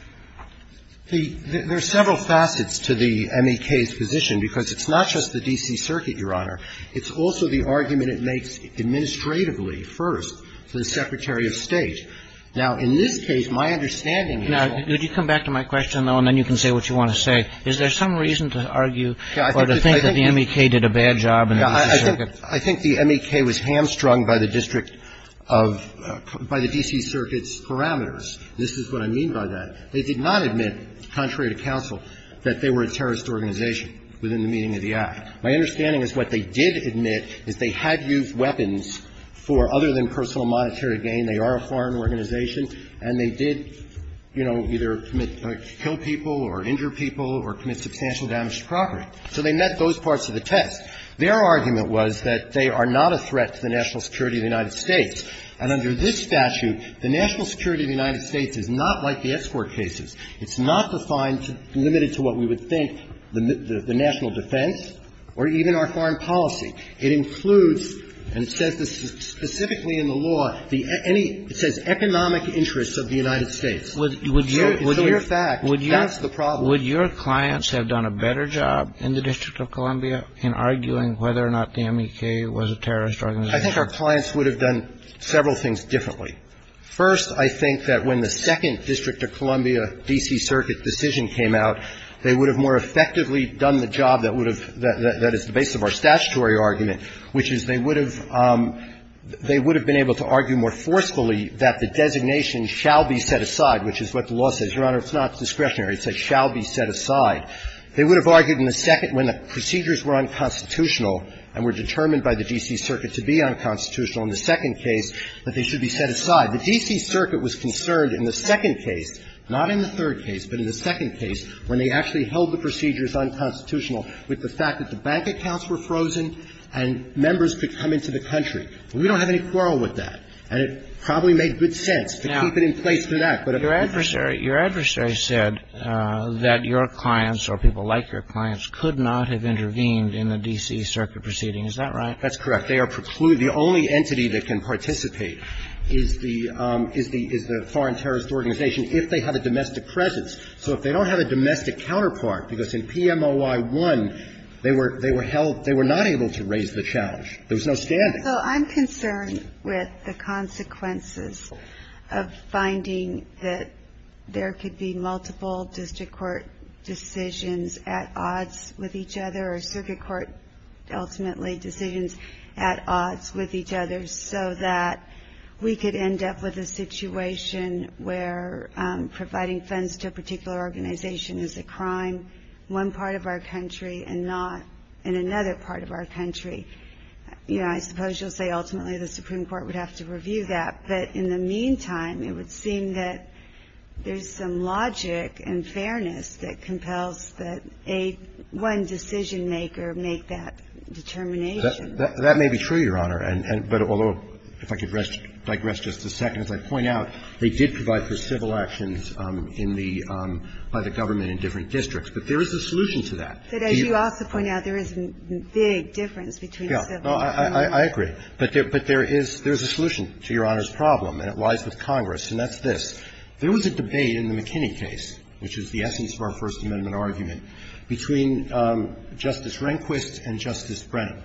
There are several facets to the MEK's position, because it's not just the D.C. Circuit, Your Honor. It's also the argument it makes administratively first to the Secretary of State. Now, in this case, my understanding is that the MEK did a bad job in the D.C. Circuit. I think the MEK was hamstrung by the district of the D.C. Circuit's parameters. This is what I mean by that. They did not admit, contrary to counsel, that they were a terrorist organization within the meaning of the act. My understanding is what they did admit is they had used weapons for other than personal monetary gain. They are a foreign organization, and they did, you know, either kill people or injure people or commit substantial damage to property. So they met those parts of the test. Their argument was that they are not a threat to the national security of the United States, and under this statute, the national security of the United States is not like the escort cases. It's not defined, limited to what we would think, the national defense, or even our foreign policy. It includes, and it says this specifically in the law, the any – it says economic interests of the United States. So it's a mere fact. That's the problem. Would your clients have done a better job in the District of Columbia in arguing whether or not the MEK was a terrorist organization? I think our clients would have done several things differently. First, I think that when the second District of Columbia D.C. Circuit decision came out, they would have more effectively done the job that would have – that is the base of our statutory argument, which is they would have – they would have been able to argue more forcefully that the designation shall be set aside, which is what the law says. Your Honor, it's not discretionary. It says shall be set aside. They would have argued in the second when the procedures were unconstitutional and were determined by the D.C. Circuit to be unconstitutional in the second case that they should be set aside. The D.C. Circuit was concerned in the second case, not in the third case, but in the second case, when they actually held the procedures unconstitutional, with the fact that the bank accounts were frozen and members could come into the country. We don't have any quarrel with that. And it probably made good sense to keep it in place through that. But if it didn't. Now, your adversary – your adversary said that your clients or people like your clients could not have intervened in the D.C. Circuit proceeding. Is that right? That's correct. But they are precluded. The only entity that can participate is the – is the foreign terrorist organization if they have a domestic presence. So if they don't have a domestic counterpart, because in PMOI-1, they were held – they were not able to raise the challenge. There was no standing. So I'm concerned with the consequences of finding that there could be multiple district court decisions at odds with each other or circuit court, ultimately, decisions at odds with each other so that we could end up with a situation where providing funds to a particular organization is a crime in one part of our country and not in another part of our country. You know, I suppose you'll say ultimately the Supreme Court would have to review that, but in the meantime, it would seem that there's some logic and fairness that compels that a one decision-maker make that determination. That may be true, Your Honor, but although, if I could digress just a second, as I point out, they did provide for civil actions in the – by the government in different districts, but there is a solution to that. But as you also point out, there is a big difference between civil and non-civil. I agree. But there is a solution to Your Honor's problem, and it lies with Congress, and that's this. There was a debate in the McKinney case, which is the essence of our First Amendment argument, between Justice Rehnquist and Justice Brennan.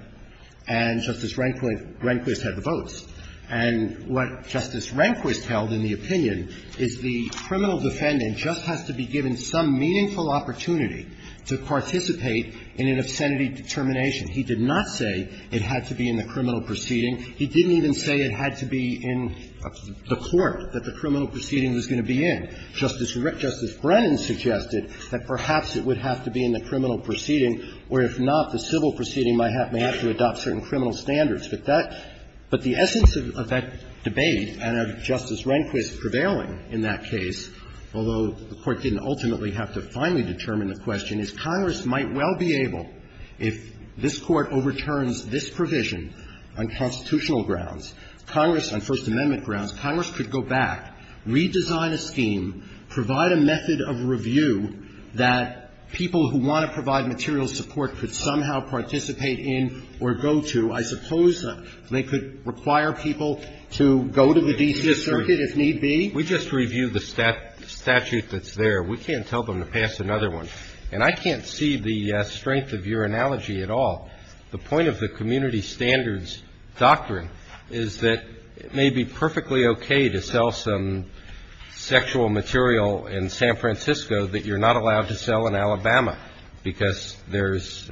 And Justice Rehnquist had the votes. And what Justice Rehnquist held in the opinion is the criminal defendant just has to be given some meaningful opportunity to participate in an obscenity determination. He did not say it had to be in the criminal proceeding. He didn't even say it had to be in the court that the criminal proceeding was going to be in. Justice Brennan suggested that perhaps it would have to be in the criminal proceeding, or if not, the civil proceeding might have to adopt certain criminal standards. But that – but the essence of that debate and of Justice Rehnquist prevailing in that case, although the Court didn't ultimately have to finally determine the question, is Congress might well be able, if this Court overturns this provision on constitutional grounds, Congress on First Amendment grounds, Congress could go back, redesign a scheme, provide a method of review that people who want to provide material support could somehow participate in or go to. I suppose they could require people to go to the D.C. Circuit if need be. We just reviewed the statute that's there. We can't tell them to pass another one. And I can't see the strength of your analogy at all. The point of the community standards doctrine is that it may be perfectly okay to sell some sexual material in San Francisco that you're not allowed to sell in Alabama because there's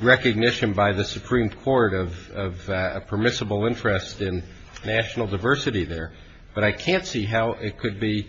recognition by the Supreme Court of permissible interest in national diversity there. But I can't see how it could be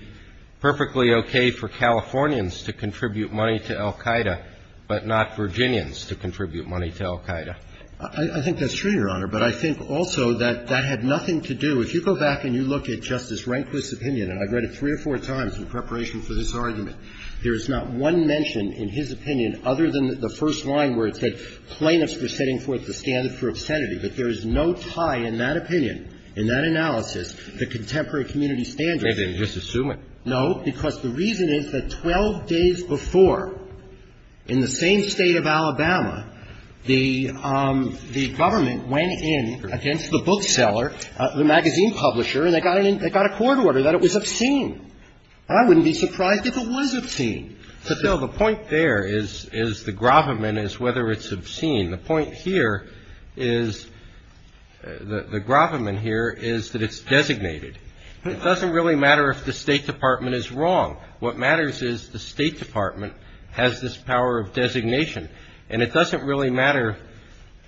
perfectly okay for Californians to contribute money to Al-Qaeda, but not Virginians to contribute money to Al-Qaeda. I think that's true, Your Honor. But I think also that that had nothing to do – if you go back and you look at Justice Rehnquist's opinion, and I've read it three or four times in preparation for this argument, there is not one mention in his opinion other than the first line where it said plaintiffs were setting forth the standard for obscenity. But there is no tie in that opinion, in that analysis, to contemporary community standards. They didn't just assume it. No, because the reason is that 12 days before, in the same State of Alabama, the government went in against the bookseller, the magazine publisher, and they got a court order that it was obscene. I wouldn't be surprised if it was obscene. So, Phil, the point there is the gravamen is whether it's obscene. The point here is – the gravamen here is that it's designated. It doesn't really matter if the State Department is wrong. What matters is the State Department has this power of designation. And it doesn't really matter,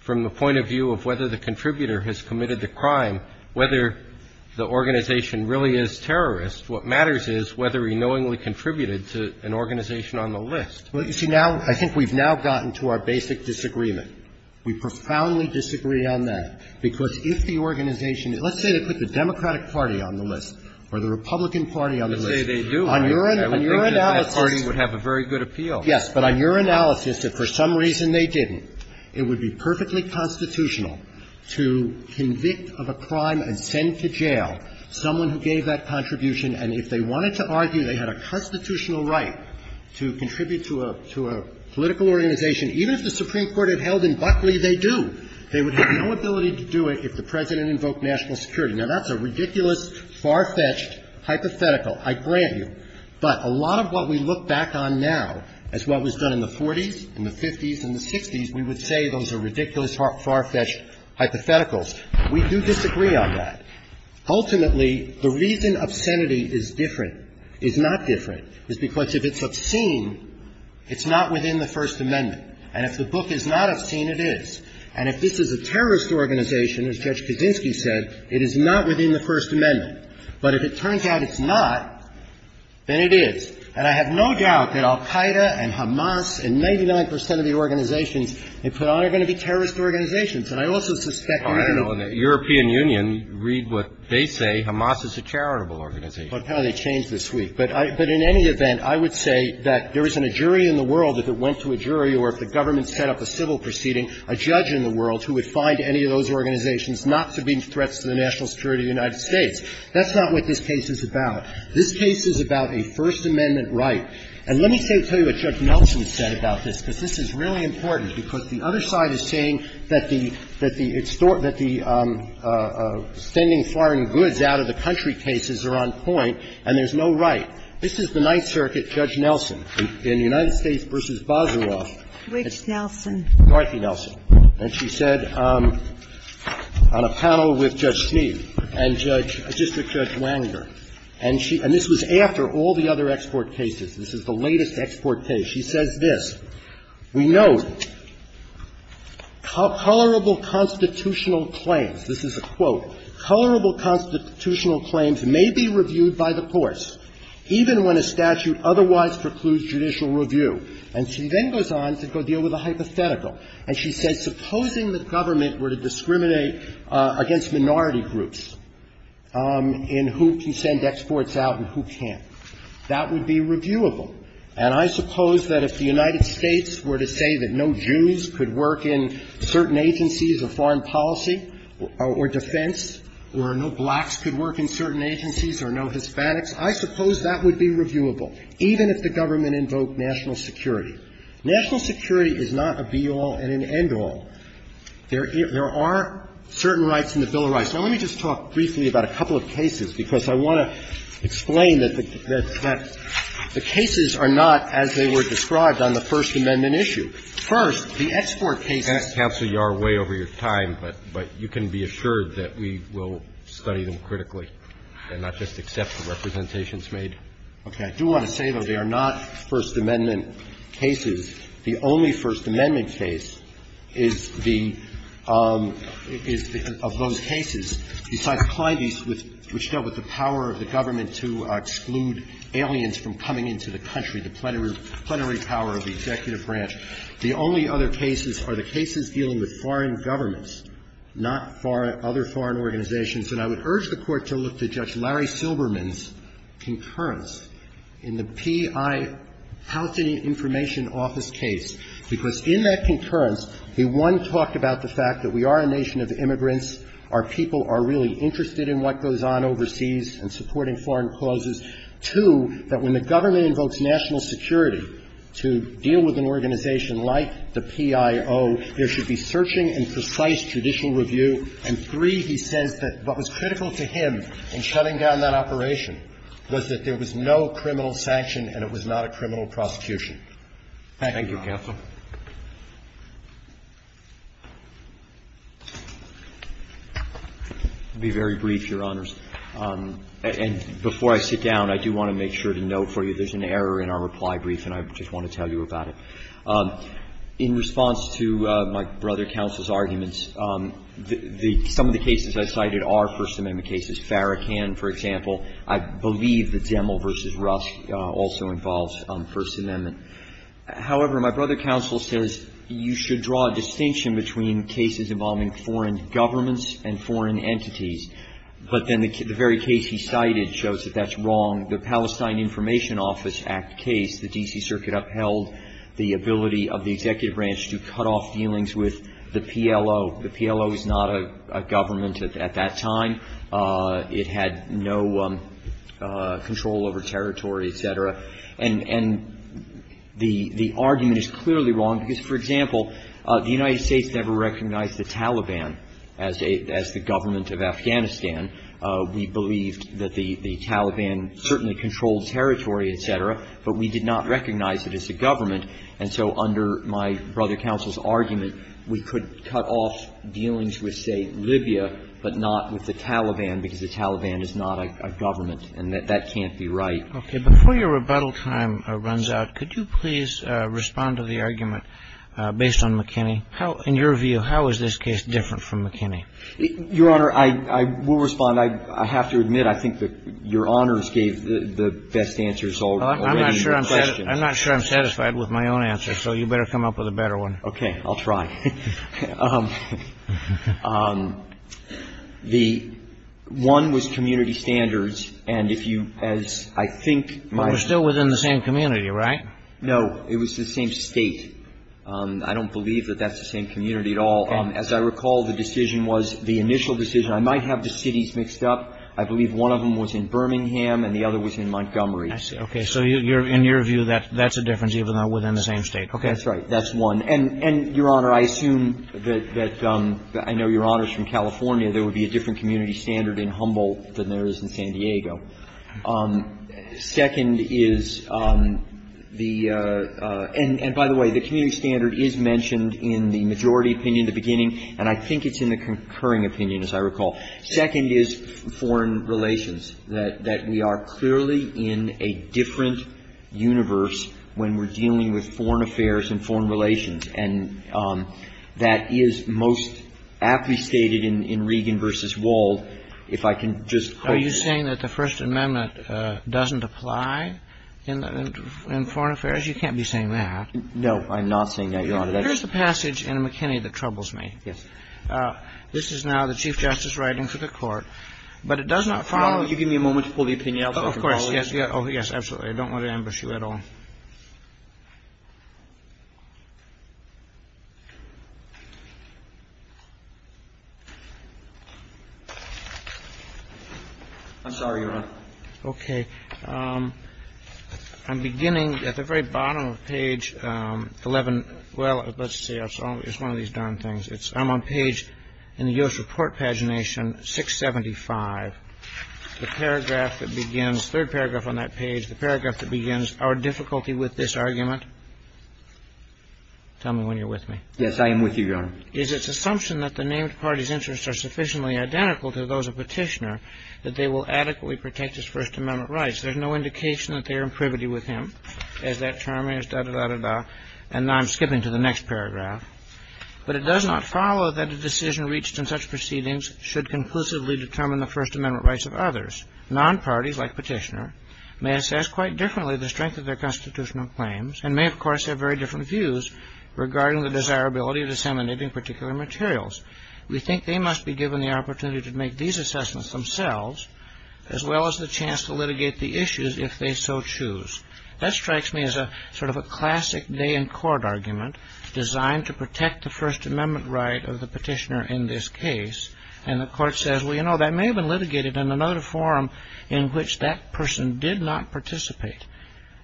from the point of view of whether the contributor has committed the crime, whether the organization really is terrorist. What matters is whether he knowingly contributed to an organization on the list. Well, you see, now – I think we've now gotten to our basic disagreement. We profoundly disagree on that, because if the organization – let's say they put the Democratic Party on the list or the Republican Party on the list, on your analysis – I would think that that party would have a very good appeal. Yes. But on your analysis, if for some reason they didn't, it would be perfectly constitutional to convict of a crime and send to jail someone who gave that contribution. And if they wanted to argue they had a constitutional right to contribute to a political organization, even if the Supreme Court had held in Buckley they do, they would have no ability to do it if the President invoked national security. Now, that's a ridiculous, far-fetched hypothetical. I grant you. But a lot of what we look back on now as what was done in the 40s and the 50s and the 60s, we would say those are ridiculous, far-fetched hypotheticals. We do disagree on that. Ultimately, the reason obscenity is different, is not different, is because if it's obscene, it's not within the First Amendment. And if the book is not obscene, it is. And if this is a terrorist organization, as Judge Kaczynski said, it is not within the First Amendment. But if it turns out it's not, then it is. And I have no doubt that al-Qaida and Hamas and 99 percent of the organizations they put on are going to be terrorist organizations. And I also suspect they're going to be. Alito, in the European Union, read what they say. Hamas is a charitable organization. Well, apparently they changed this week. But in any event, I would say that there isn't a jury in the world, if it went to a jury or if the government set up a civil proceeding, a judge in the world who would find any of those organizations not to be threats to the national security of the United States. That's not what this case is about. This case is about a First Amendment right. And let me tell you what Judge Nelson said about this, because this is really important, because the other side is saying that the Standing Foreign Goods Out-of-the-Country cases are on point and there's no right. This is the Ninth Circuit, Judge Nelson. In the United States v. Bazaroff. Ginsburg. Which Nelson? Garthi-Nelson. And she said on a panel with Judge Schnee and Judge — District Judge Wanger. And she — and this was after all the other export cases. This is the latest export case. She says this. We note, colorable constitutional claims, this is a quote, colorable constitutional claims may be reviewed by the courts, even when a statute otherwise precludes judicial review. And she then goes on to go deal with a hypothetical. And she says, supposing the government were to discriminate against minority groups in who can send exports out and who can't, that would be reviewable. And I suppose that if the United States were to say that no Jews could work in certain agencies or no Hispanics, I suppose that would be reviewable, even if the government invoked national security. National security is not a be-all and an end-all. There are certain rights in the Bill of Rights. Now, let me just talk briefly about a couple of cases, because I want to explain that the cases are not as they were described on the First Amendment issue. First, the export cases. I'm going to cancel your way over your time, but you can be assured that we will study them critically and not just accept the representations made. Okay. I do want to say, though, they are not First Amendment cases. The only First Amendment case is the – is of those cases. Besides Clyde East, which dealt with the power of the government to exclude aliens from coming into the country, the plenary power of the executive branch, the only other cases are the cases dealing with foreign governments, not other foreign organizations. And I would urge the Court to look to Judge Larry Silberman's concurrence in the P.I. Houghton Information Office case, because in that concurrence, he, one, talked about the fact that we are a nation of immigrants, our people are really interested in what goes on overseas and supporting foreign clauses, two, that when the government invokes national security to deal with an organization like the PIO, there should be searching and precise judicial review, and three, he says that what was critical to him in shutting down that operation was that there was no criminal sanction and it was not a criminal prosecution. Thank you, counsel. Be very brief, Your Honors. And before I sit down, I do want to make sure to note for you, there's an error in our reply brief and I just want to tell you about it. In response to my brother counsel's arguments, the – some of the cases I cited are First Amendment cases. Farrakhan, for example, I believe the Demel v. Rusk also involves First Amendment. However, my brother counsel says you should draw a distinction between cases involving foreign governments and foreign entities. But then the very case he cited shows that that's wrong. The Palestine Information Office Act case, the D.C. Circuit upheld the ability of the executive branch to cut off dealings with the PLO. The PLO is not a government at that time. It had no control over territory, et cetera. And the argument is clearly wrong because, for example, the United States never recognized the Taliban as a – as the government of Afghanistan. We believed that the Taliban certainly controlled territory, et cetera, but we did not recognize it as a government, and so under my brother counsel's argument, we could cut off dealings with, say, Libya, but not with the Taliban because the Taliban is not a government and that that can't be right. Okay. Before your rebuttal time runs out, could you please respond to the argument based on McKinney? In your view, how is this case different from McKinney? Your Honor, I will respond. I have to admit I think that Your Honors gave the best answers already. I'm not sure I'm satisfied with my own answer, so you'd better come up with a better one. Okay. I'll try. The one was community standards, and if you – as I think my – But they're still within the same community, right? No. It was the same State. I don't believe that that's the same community at all. Okay. As I recall, the decision was – the initial decision – I might have the cities mixed up. I believe one of them was in Birmingham and the other was in Montgomery. I see. Okay. So in your view, that's a difference even though within the same State. Okay. That's right. That's one. And, Your Honor, I assume that – I know Your Honor is from California. There would be a different community standard in Humboldt than there is in San Diego. Second is the – and by the way, the community standard is mentioned in the majority opinion at the beginning, and I think it's in the concurring opinion, as I recall. Second is foreign relations, that we are clearly in a different universe when we're dealing with foreign affairs and foreign relations, and that is most aptly stated in Regan v. Wald. If I can just – Are you saying that the First Amendment doesn't apply in foreign affairs? You can't be saying that. No. I'm not saying that, Your Honor. That's – Here's the passage in McKinney that troubles me. Yes. This is now the Chief Justice writing to the Court, but it does not follow – Could you give me a moment to pull the opinion out so I can follow it? Of course. Yes. Oh, yes. Absolutely. I don't want to ambush you at all. I'm sorry, Your Honor. Okay. I'm beginning at the very bottom of page 11 – well, let's see. It's one of these darn things. I'm on page – in the U.S. Report Pagination 675. The paragraph that begins – third paragraph on that page, the paragraph that begins our difficulty with this argument. Tell me when you're with me. Yes, I am with you, Your Honor. Is its assumption that the named party's interests are sufficiently identical to those of Petitioner that they will adequately protect his First Amendment rights. There's no indication that they are in privity with him, as that term is, da-da-da-da-da. And now I'm skipping to the next paragraph. But it does not follow that a decision reached in such proceedings should conclusively determine the First Amendment rights of others. Non-parties like Petitioner may assess quite differently the strength of their constitutional claims and may, of course, have very different views regarding the desirability of disseminating particular materials. We think they must be given the opportunity to make these assessments themselves as well as the chance to litigate the issues if they so choose. That strikes me as a sort of a classic day-in-court argument designed to protect the First Amendment right of the Petitioner in this case. And the Court says, well, you know, that may have been litigated in another forum in which that person did not participate.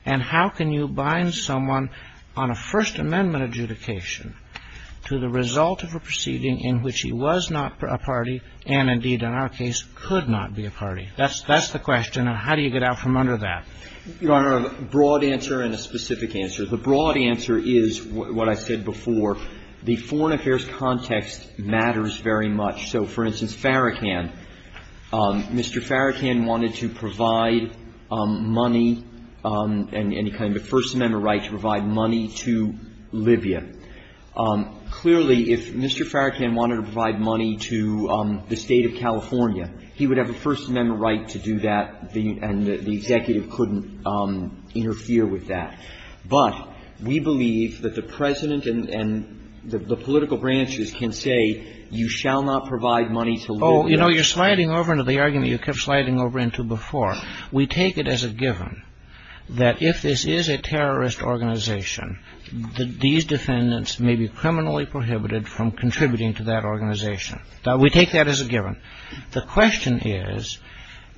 And how can you bind someone on a First Amendment adjudication to the result of a proceeding in which he was not a party and, indeed, in our case, could not be a party? That's the question. And how do you get out from under that? Your Honor, a broad answer and a specific answer. The broad answer is what I said before. The foreign affairs context matters very much. So, for instance, Farrakhan. Mr. Farrakhan wanted to provide money and any kind of First Amendment right to provide money to Libya. Clearly, if Mr. Farrakhan wanted to provide money to the State of California, he would have a First Amendment right to do that, and the executive couldn't interfere with that. But we believe that the President and the political branches can say, you shall not provide money to Libya. Oh, you know, you're sliding over into the argument you kept sliding over into before. We take it as a given that if this is a terrorist organization, that these defendants may be criminally prohibited from contributing to that organization. We take that as a given. The question is,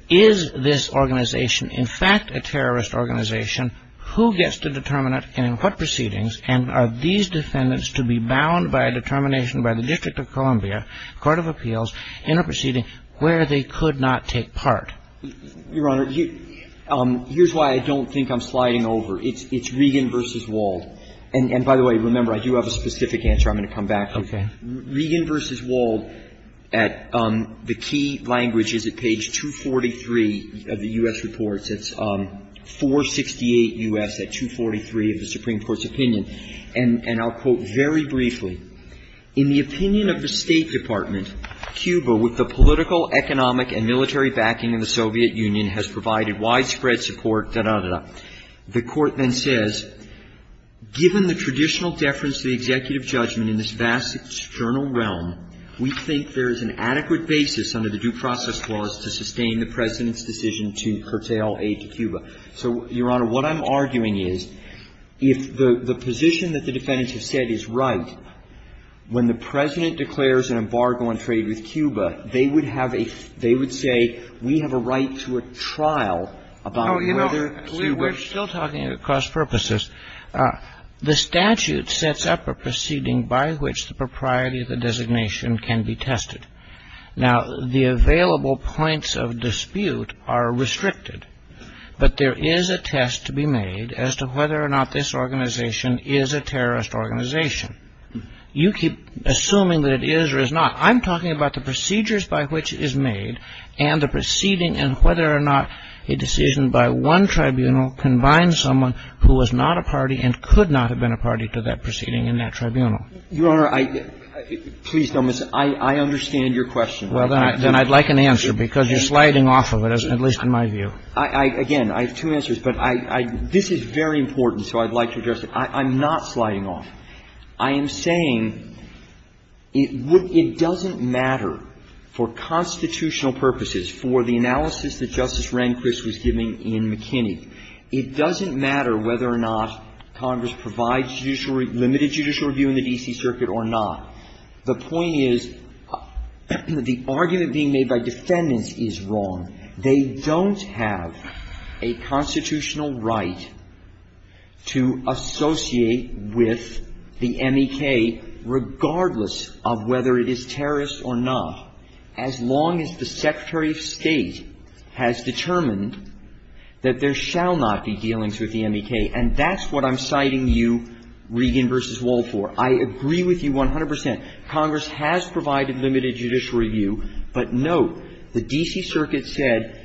is this organization in fact a terrorist organization? Who gets to determine it and in what proceedings? And are these defendants to be bound by a determination by the District of Columbia Court of Appeals in a proceeding where they could not take part? Your Honor, here's why I don't think I'm sliding over. It's Regan v. Wald. And, by the way, remember, I do have a specific answer. I'm going to come back to it. Okay. Regan v. Wald at the key language is at page 243 of the U.S. reports. It's 468 U.S. at 243 of the Supreme Court's opinion. And I'll quote very briefly. In the opinion of the State Department, Cuba, with the political, economic and military backing of the Soviet Union, has provided widespread support, da, da, da, da. The Court then says, given the traditional deference to the executive judgment in this vast external realm, we think there is an adequate basis under the Due Process Laws to sustain the President's decision to curtail aid to Cuba. So, Your Honor, what I'm arguing is, if the position that the defendants have said is right, when the President declares an embargo on trade with Cuba, they would have a they would say, we have a right to a trial about whether we wish to. Oh, you know, we're still talking about cross-purposes. The statute sets up a proceeding by which the propriety of the designation can be tested. Now, the available points of dispute are restricted. But there is a test to be made as to whether or not this organization is a terrorist organization. You keep assuming that it is or is not. I'm talking about the procedures by which it is made and the proceeding and whether or not a decision by one tribunal combines someone who is not a party and could not have been a party to that proceeding in that tribunal. Your Honor, please don't misunderstand. I understand your question. Well, then I'd like an answer, because you're sliding off of it, at least in my view. Again, I have two answers. But this is very important, so I'd like to address it. I'm not sliding off. I am saying it doesn't matter for constitutional purposes, for the analysis that Justice Rehnquist was giving in McKinney, it doesn't matter whether or not Congress provides limited judicial review in the D.C. Circuit or not. The point is the argument being made by defendants is wrong. They don't have a constitutional right to associate with the M.E.K., regardless of whether it is terrorist or not, as long as the Secretary of State has determined that there shall not be dealings with the M.E.K. And that's what I'm citing you, Regan v. Wall, for. I agree with you 100 percent. Congress has provided limited judicial review, but note the D.C. Circuit said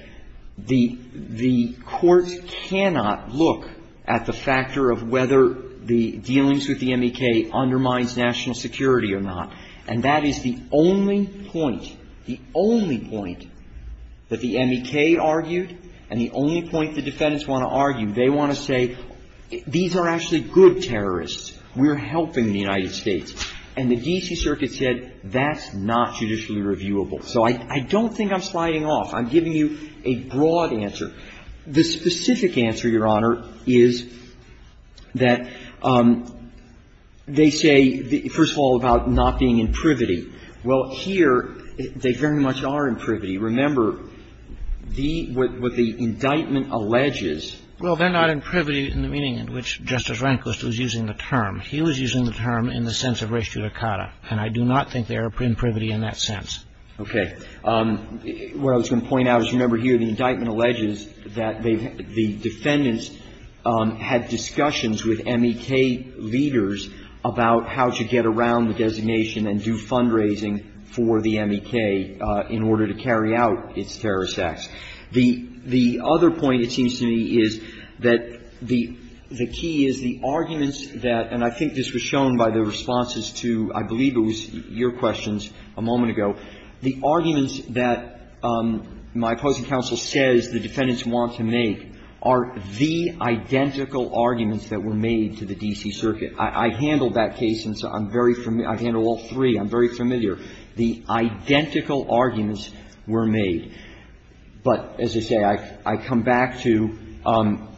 the courts cannot look at the factor of whether the dealings with the M.E.K. undermines national security or not. And that is the only point, the only point that the M.E.K. argued and the only point the defendants want to argue. They want to say these are actually good terrorists. We're helping the United States. And the D.C. Circuit said that's not judicially reviewable. So I don't think I'm sliding off. I'm giving you a broad answer. The specific answer, Your Honor, is that they say, first of all, about not being in privity. Well, here, they very much are in privity. Remember, the — what the indictment alleges — Well, they're not in privity in the meaning in which Justice Rehnquist was using the term. He was using the term in the sense of res judicata. And I do not think they are in privity in that sense. Okay. What I was going to point out is, remember here, the indictment alleges that they — the defendants had discussions with M.E.K. leaders about how to get around the acts. The other point, it seems to me, is that the key is the arguments that — and I think this was shown by the responses to, I believe it was your questions a moment ago. The arguments that my opposing counsel says the defendants want to make are the identical arguments that were made to the D.C. Circuit. I handled that case, and so I'm very — I've handled all three. I'm very familiar. The identical arguments were made. But as I say, I come back to —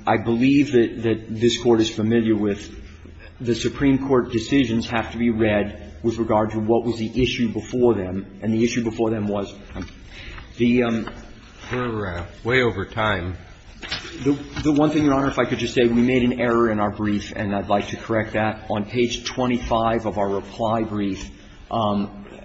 I believe that this Court is familiar with the Supreme Court decisions have to be read with regard to what was the issue before them. And the issue before them was the — We're way over time. The one thing, Your Honor, if I could just say, we made an error in our brief, and I'd like to correct that. On page 25 of our reply brief,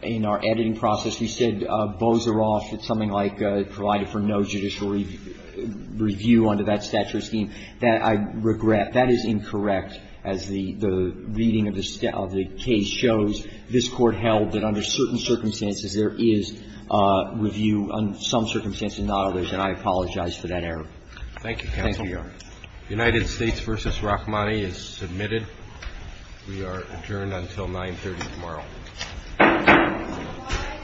in our editing process, you said Bozeroff did something like provided for no judicial review under that statute or scheme. That I regret. That is incorrect. As the reading of the case shows, this Court held that under certain circumstances there is review under some circumstances, not others, and I apologize for that error. Thank you, counsel. Thank you, Your Honor. The United States v. Rahmani is submitted. We are adjourned until 9.30 tomorrow.